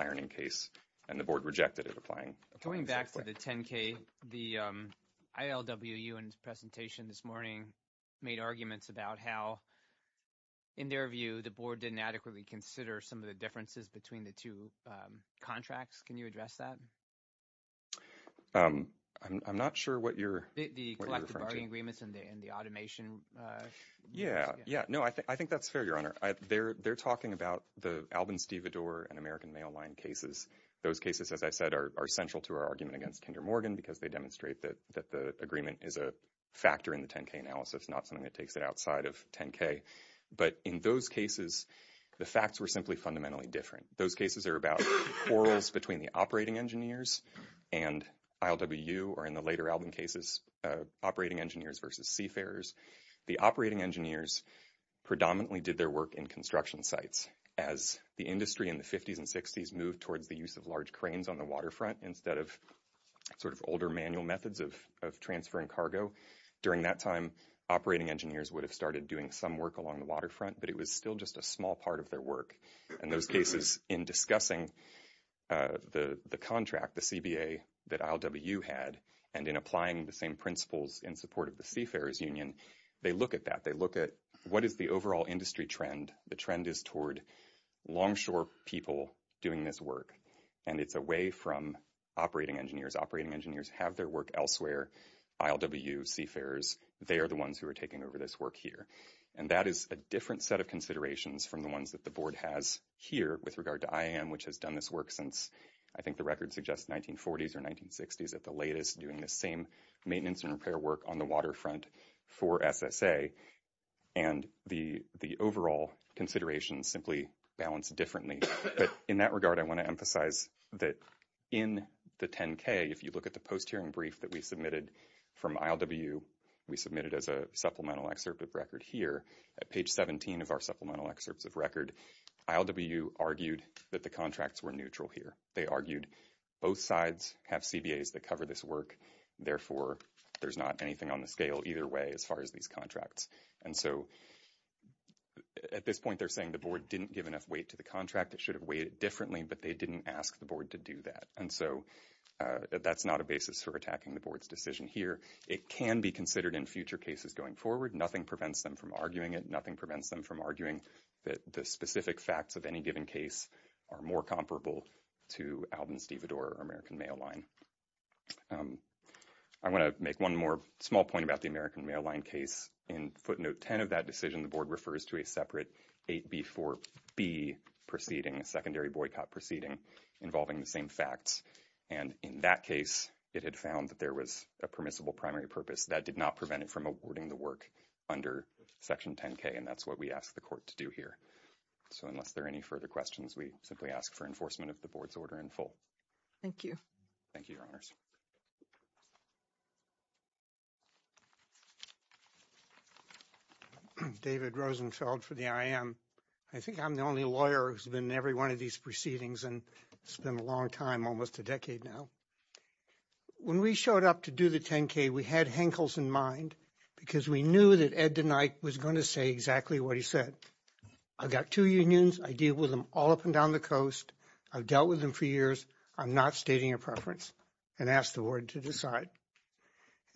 ironing case, and the board rejected it, replying... Going back to the 10K, the ILWU in its presentation this morning made arguments about how, in their view, the board didn't adequately consider some of the differences between the two contracts. Can you address that? I'm not sure what you're referring to. The collective bargaining agreements and the automation... Yeah, yeah. No, I think that's fair, Your Honor. They're talking about the Alvin Steve Vador and American Mail Line cases. Those cases, as I said, are central to our argument against Kinder Morgan because they demonstrate that the agreement is a factor in the 10K analysis, not something that takes it outside of 10K. But in those cases, the facts were simply fundamentally different. Those cases are about quarrels between the operating engineers and ILWU, or in the later Alvin cases, operating engineers versus seafarers. The operating engineers predominantly did their work in construction sites. As the industry in the 50s and 60s moved towards the use of large cranes on the waterfront instead of older manual methods of transferring cargo, during that time, operating engineers would have started doing some work along the waterfront, but it was still just a small part of their work. In those cases, in discussing the contract, the CBA, that ILWU had, and in applying the same principles in support of the seafarers union, they look at that. They look at what is the overall industry trend. The trend is toward longshore people doing this work, and it's away from operating engineers. Operating engineers have their work elsewhere. ILWU, seafarers, they are the ones who are taking over this work here. That is a different set of considerations from the ones that the board has here with regard to IAM, which has done this work since, I think the record suggests, 1940s or 1960s at the latest, doing the same maintenance and repair work on the waterfront for SSA. The overall considerations simply balance differently. In that regard, I want to emphasize that in the 10K, if you look at the post-hearing brief that we submitted from ILWU, we submitted as a supplemental excerpt of record here. At page 17 of our supplemental excerpt of record, ILWU argued that the contracts were neutral here. They argued both sides have CBAs that cover this work. Therefore, there's not anything on the scale either way as far as these contracts. At this point, they're saying the board didn't give enough weight to the contract. It should weigh it differently, but they didn't ask the board to do that. That's not a basis for attacking the board's decision here. It can be considered in future cases going forward. Nothing prevents them from arguing it. Nothing prevents them from arguing that the specific facts of any given case are more comparable to Alvin Stevedore or American Mail Line. I want to make one more small point about the American Mail Line case. In footnote 10 of that decision, the board refers to separate 8B4B proceeding, a secondary boycott proceeding, involving the same facts. In that case, it had found that there was a permissible primary purpose that did not prevent it from awarding the work under Section 10K. That's what we asked the court to do here. Unless there are any further questions, we simply ask for enforcement of the board's order in full. Thank you. Thank you. David Rosenfeld for the IM. I think I'm the only lawyer who's been in every one of these proceedings, and it's been a long time, almost a decade now. When we showed up to do the 10K, we had Henkels in mind because we knew that Ed DeKnight was going to say exactly what he said. I've got two unions. I deal with them all up and down the coast. I've dealt with them for years. I'm not stating a preference and ask the board to decide.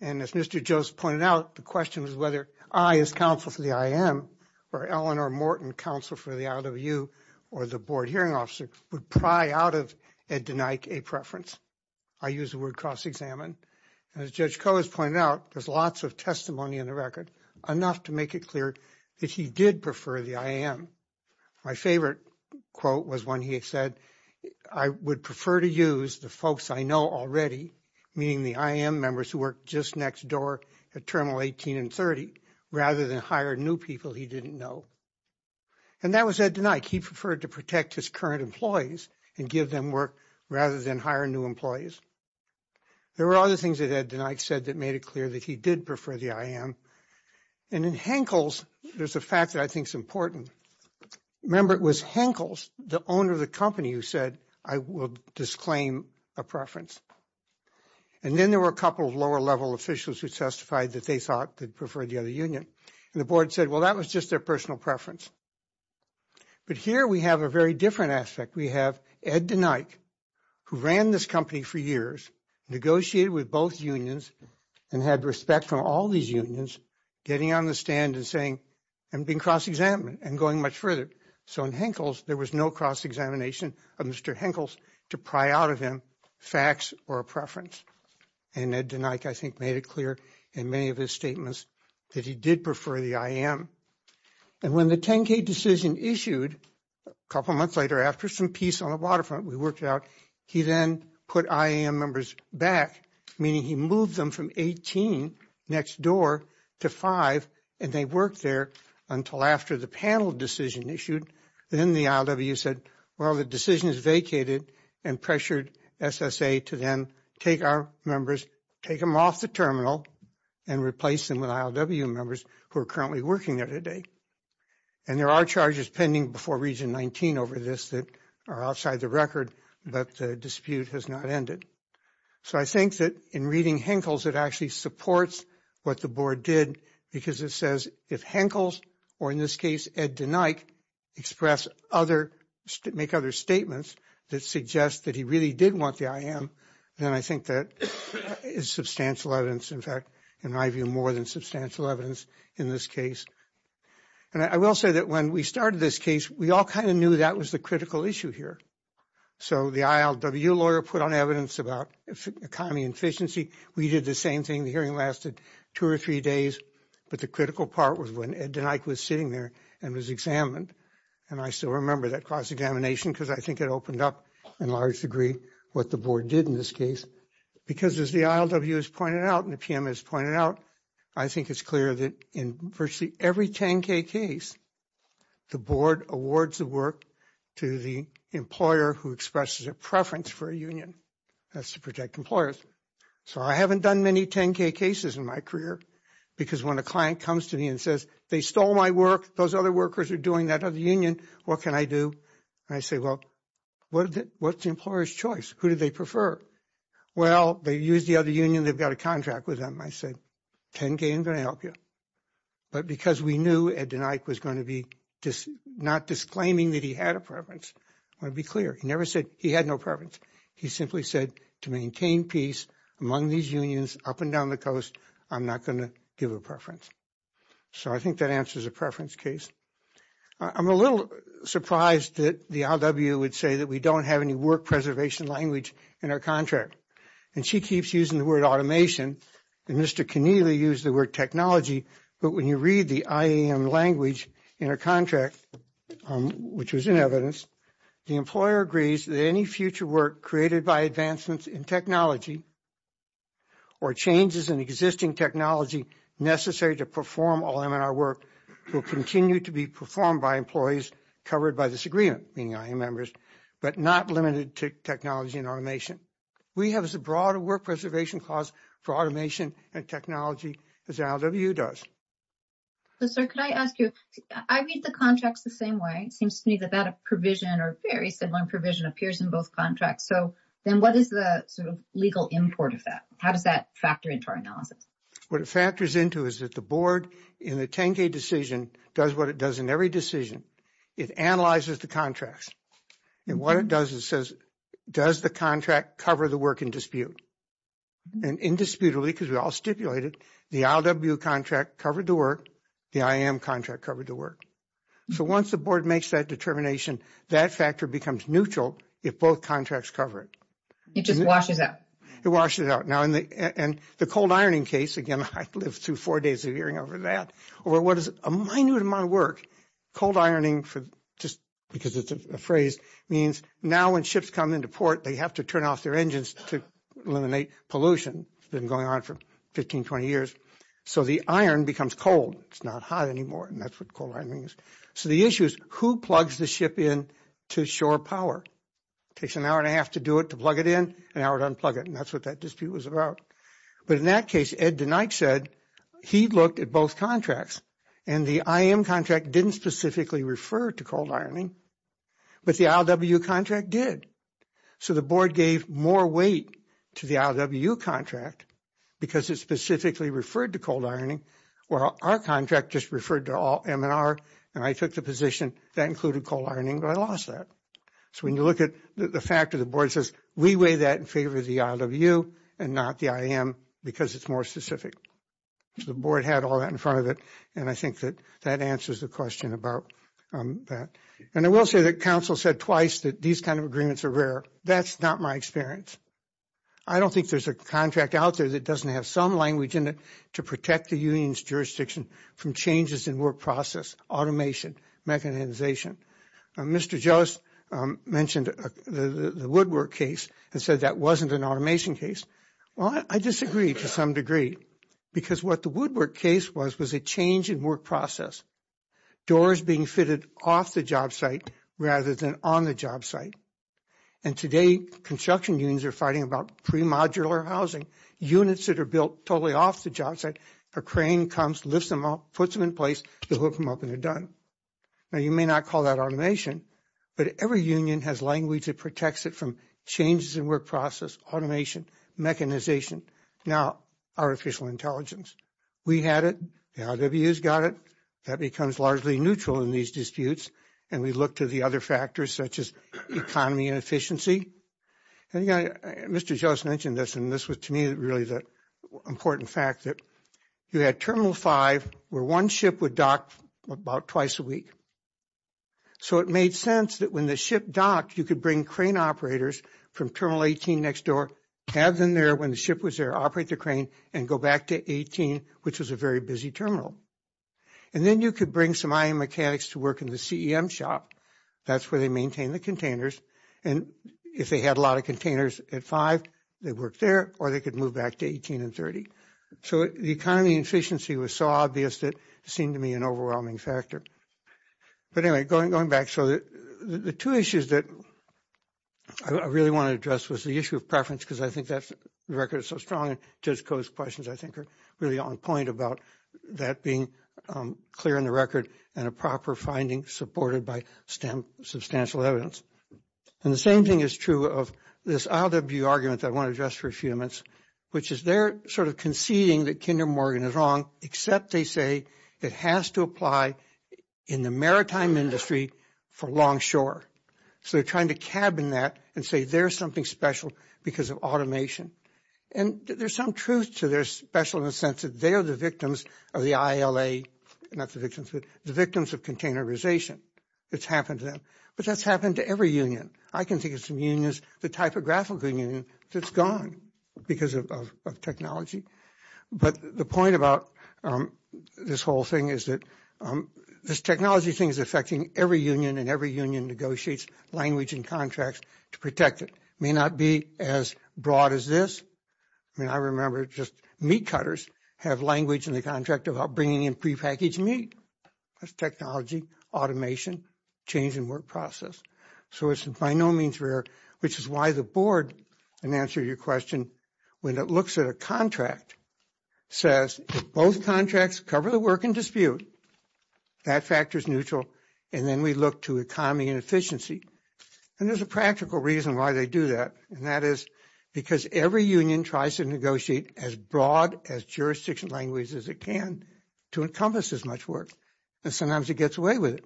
As Mr. Jones pointed out, the question is whether I, as counsel for the IM, or Eleanor Morton, counsel for the OWU, or the board hearing officer, would pry out of Ed DeKnight a preference. I use the word cross-examine. As Judge Coase pointed out, there's lots of testimony in the record, enough to make it clear that he did prefer the IM. My favorite quote was when he had said, I would prefer to use the folks I know already, meaning the IM members who work just next door at Terminal 18 and 30, rather than hire new people he didn't know. That was Ed DeKnight. He preferred to protect his current employees and give them work rather than hire new employees. There were other things that Ed DeKnight said that made it clear that he did prefer the IM. And in Henkels, there's a fact that I think is important. Remember, it was Henkels, the owner of the company, who said, I will disclaim a preference. And then there were a couple of lower-level officials who testified that they thought they'd prefer the other union. And the board said, well, that was just their personal preference. But here we have a very different aspect. We have Ed DeKnight, who ran this company for years, negotiated with both unions, and had respect from all these unions, getting on the stand and saying, I'm being cross-examined and going much further. So in Henkels, there was no cross-examination of Mr. Henkels to pry out of him facts or a preference. And Ed DeKnight, I think, made it clear in many of his statements that he did prefer the IM. And when the 10K decision issued a couple months later after some peace on the waterfront we worked out, he then put IM members back, meaning he moved them from 18 next door to five, and they worked there until after the panel decision issued. And then the ILWU said, well, the decision is vacated, and pressured SSA to then take our members, take them off the terminal, and replace them with ILWU members who are currently working there today. And there are charges pending before Region 19 over this that are outside the record, but the dispute has not ended. So I think that in reading Henkels, it actually supports what the board did, because it says if Henkels, or in this case, Ed DeKnight, express other, make other statements that suggest that he really did want the IM, then I think that is substantial evidence, in fact, in my view, more than substantial evidence in this case. And I will say that when we started this case, we all kind of knew that was the critical issue here. So the ILWU lawyer put on evidence about economy and efficiency. We did the same thing. The hearing lasted two or three days, but the critical part was when Ed DeKnight was sitting there and was examined. And I still remember that cross-examination, because I think it opened up in large degree what the board did in this case. Because as the ILWU has pointed out, and the PM has pointed out, I think it's clear that in virtually every 10-K case, the board awards the work to the employer who expresses a preference for a union. That's to protect employers. So I haven't done many 10-K cases in my career, because when a client comes to me and says, they stole my work, those other workers are doing that other union, what can I do? And I say, well, what's the employer's choice? Who do they prefer? Well, they use the other union. They've got a contract with them. I said, 10-K, I'm going to help you. But because we knew Ed DeKnight was going to be not disclaiming that he had a preference, I want to be clear. He never said he had no preference. He simply said, to maintain peace among these unions up and down the coast, I'm not going to give a preference. So I think that answers a preference case. I'm a little surprised that the ILWU would say that we don't have any preservation language in our contract. And she keeps using the word automation. And Mr. Keneally used the word technology. But when you read the IAM language in our contract, which was in evidence, the employer agrees that any future work created by advancements in technology or changes in existing technology necessary to perform all M&R work will continue to be performed by employees covered by this agreement, being IAM members, but not limited to technology and automation. We have as a broader work preservation clause for automation and technology as ILWU does. So, sir, can I ask you, I read the contract the same way. It seems to me that that provision or very similar provision appears in both contracts. So then what is the legal import of that? How does that factor into our analysis? What it factors into is that the in every decision, it analyzes the contracts. And what it does, it says, does the contract cover the work in dispute? And indisputably, because we all stipulated, the ILWU contract covered the work, the IAM contract covered the work. So once the board makes that determination, that factor becomes neutral if both contracts cover it. It washes it out. It washes it out. And the cold ironing case, again, I lived through four days of hearing over that, or what is a minute of my work. Cold ironing, just because it's a phrase, means now when ships come into port, they have to turn off their engines to eliminate pollution. It's been going on for 15, 20 years. So the iron becomes cold. It's not hot anymore. And that's what cold ironing is. So the issue is, who plugs the ship in to shore power? It takes an hour and a half to do it, to plug it in, an hour to unplug it. And that's what that dispute was about. But in that case, Ed DeKnight said, he looked at both contracts. And the IAM contract didn't specifically refer to cold ironing. But the ILWU contract did. So the board gave more weight to the ILWU contract because it specifically referred to cold ironing, while our contract just referred to all M&R. And I took the position that included cold ironing, but I lost that. So when you look at the fact that the board says, we weigh that in favor of the ILWU and not the IAM because it's more specific. The board had all that in front of it. And I think that that answers the question about that. And I will say that counsel said twice that these kind of agreements are rare. That's not my experience. I don't think there's a contract out there that doesn't have some language in it to protect the union's jurisdiction from changes in work process, automation, mechanization. Mr. Jost mentioned the Woodward case and said that wasn't an automation case. Well, I disagree to some degree because what the Woodward case was, was a change in work process. Doors being fitted off the job site rather than on the job site. And today, construction unions are fighting about pre-modular housing. Units that are built totally off the job site, a crane comes, lifts them up, puts them in place, the hook them up, and they're done. Now, you may not call that automation, but every union has language that protects it from changes in work process, automation, mechanization, now artificial intelligence. We had it. The IWU's got it. That becomes largely neutral in these disputes. And we look to the other factors such as economy and efficiency. And again, Mr. Jost mentioned this, and this was to me really the important fact that you had Terminal 5 where one ship would dock about twice a week. So, it made sense that when the ship docked, you could bring crane operators from Terminal 18 next door, have them there when the ship was there, operate the crane, and go back to 18, which was a very busy terminal. And then you could bring some ion mechanics to work in the CEM shop. That's where they maintain the containers. And if they had a lot of containers at 5, they worked there, or they could move back to 18 and 30. So, the economy and efficiency was so obvious that it seemed to me an overwhelming factor. But anyway, going back, so the two issues that I really want to address was the issue of preference, because I think that's the record is so strong. Ted's questions, I think, are really on point about that being clear in the record and a proper finding supported by substantial evidence. And the same thing is true of this IWU argument that I want to address for a few minutes, which is they're sort of conceding that Kinder Morgan is wrong, except they say it has to apply in the maritime industry for longshore. So, they're trying to cabin that and say there's something special because of automation. And there's some truth to their special in the sense that they are the victims of the ILA, not the victims, the victims of containerization. It's happened to them, but that's happened to every union. I can think of some unions, the typographical union, that's gone because of technology. But the point about this whole thing is that this technology thing is affecting every union, and every union negotiates language and contracts to protect it. It may not be as broad as this. I mean, I remember just meat cutters have language in the contract about bringing in prepackaged meat. It's technology, automation, change in work process. So, it's by no means rare, which is why the board, in answer to your when it looks at a contract, says both contracts cover the work in dispute, that factor is neutral, and then we look to economy and efficiency. And there's a practical reason why they do that, and that is because every union tries to negotiate as broad as jurisdiction language as it can to encompass as much work, but sometimes it gets away with it.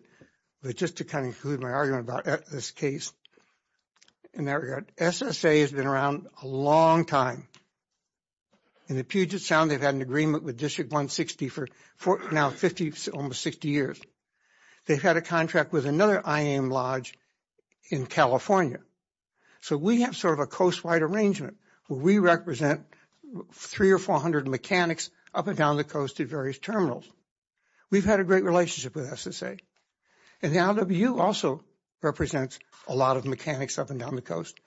But just to kind of give you a sense of what we're talking about here, we've had a contract for a long time. In the Puget Sound, they've had an agreement with District 160 for now 50, almost 60 years. They've had a contract with another IAM Lodge in California. So, we have sort of a coast-wide arrangement where we represent 300 or 400 mechanics up and down the coast at various terminals. We've had a great relationship with SSA, and LWU also represents a lot of mechanics up and down the coast.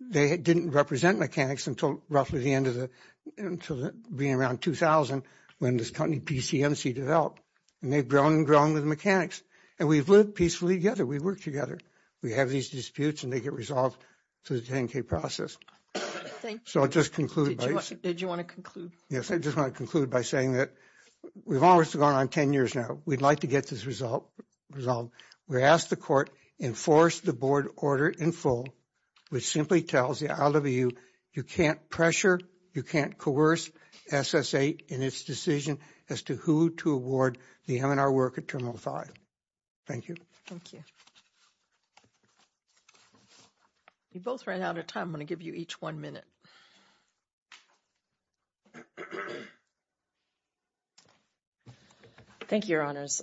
They didn't represent mechanics until roughly the end of the, until being around 2000 when this company PCMC developed, and they've grown and grown with mechanics, and we've lived peacefully together. We work together. We have these disputes, and they get resolved through the 10k process. So, I'll just conclude. Did you want to conclude? Yes, I just want to conclude by saying that we've almost gone on 10 years now. We'd like to get this resolved. We asked the court enforce the board order in full, which simply tells the LWU you can't pressure, you can't coerce SSA in its decision as to who to award the M&R work at Terminal 5. Thank you. Thank you. You both ran out of time. I'm going to give you each one minute. Thank you, Your Honors.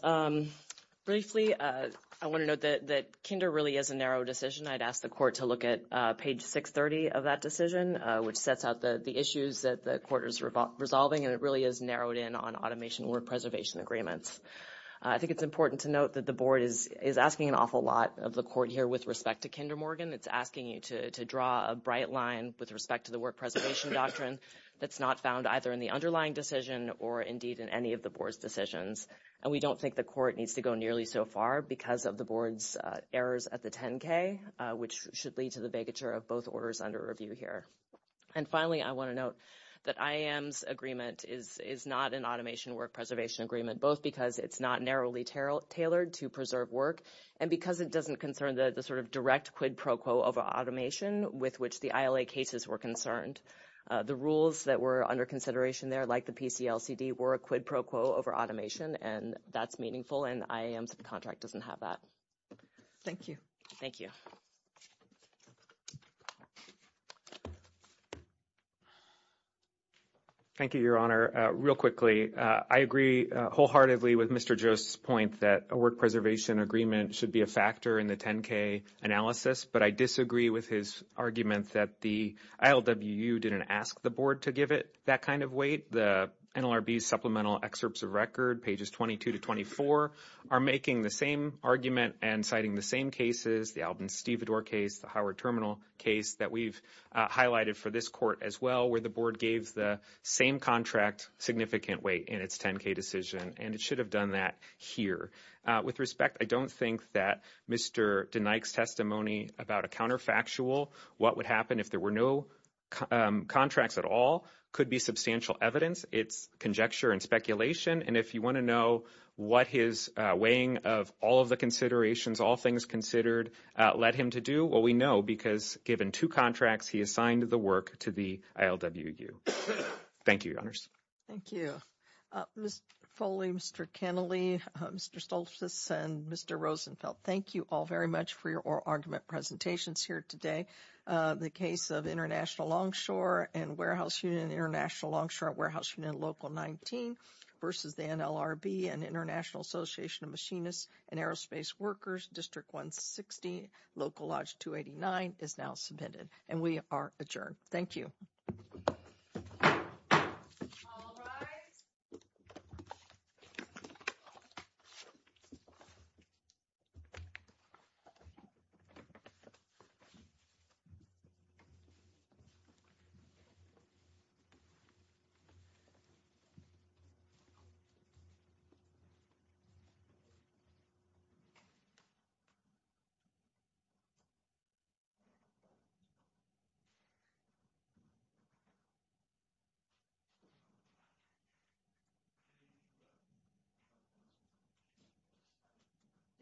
Briefly, I want to note that Kinder really is a narrow decision. I'd ask the court to look at page 630 of that decision, which sets out the issues that the court is resolving, and it really is narrowed in on automation work preservation agreements. I think it's important to note that the board is asking an awful lot of the court here with respect to Kinder Morgan. It's asking you to draw a bright line with respect to the work preservation doctrine that's not found either in the underlying decision or in the decision or indeed in any of the board's decisions. We don't think the court needs to go nearly so far because of the board's errors at the 10K, which should lead to the vacature of both orders under review here. Finally, I want to note that IAM's agreement is not an automation work preservation agreement, both because it's not narrowly tailored to preserve work and because it doesn't concern the direct quid pro quo of automation with which the ILA cases were concerned. The rules that were under consideration there, like the PCLCD, were a quid pro quo over automation, and that's meaningful, and IAM's contract doesn't have that. Thank you. Thank you. Thank you, Your Honor. Real quickly, I agree wholeheartedly with Mr. Joseph's point that a work preservation agreement should be a factor in the 10K analysis, but I disagree with his arguments that the ILWU didn't ask the board to give it that kind of weight. The NLRB's supplemental excerpts of record, pages 22 to 24, are making the same argument and citing the same cases, the Alvin Stevedore case, the Howard Terminal case that we've highlighted for this court as well, where the board gave the same contract significant weight in its 10K decision, and it should have done that here. With respect, I don't think that Mr. DeNike's testimony about a counterfactual, what would happen if there were no contracts at all, could be substantial evidence. It's conjecture and speculation, and if you want to know what his weighing of all of the considerations, all things considered, led him to do, well, we know because given two contracts, he assigned the work to the ILWU. Thank you, Your Honors. Thank you. Mr. Foley, Mr. Kennelly, Mr. Stolzis, and Mr. Rosenfeld, thank you all very much for your argument presentations here today. The case of International Longshore and Warehouse Unit and International Longshore Warehouse Unit Local 19 versus the NLRB and International Association of Machinists and Aerospace Workers, District 160, Local Lodge 289, is now submitted, and we are adjourned. Thank you.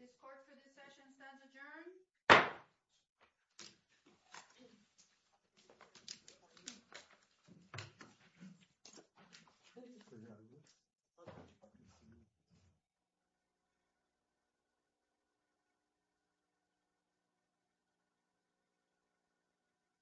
This court's discussion is now adjourned. Thank you.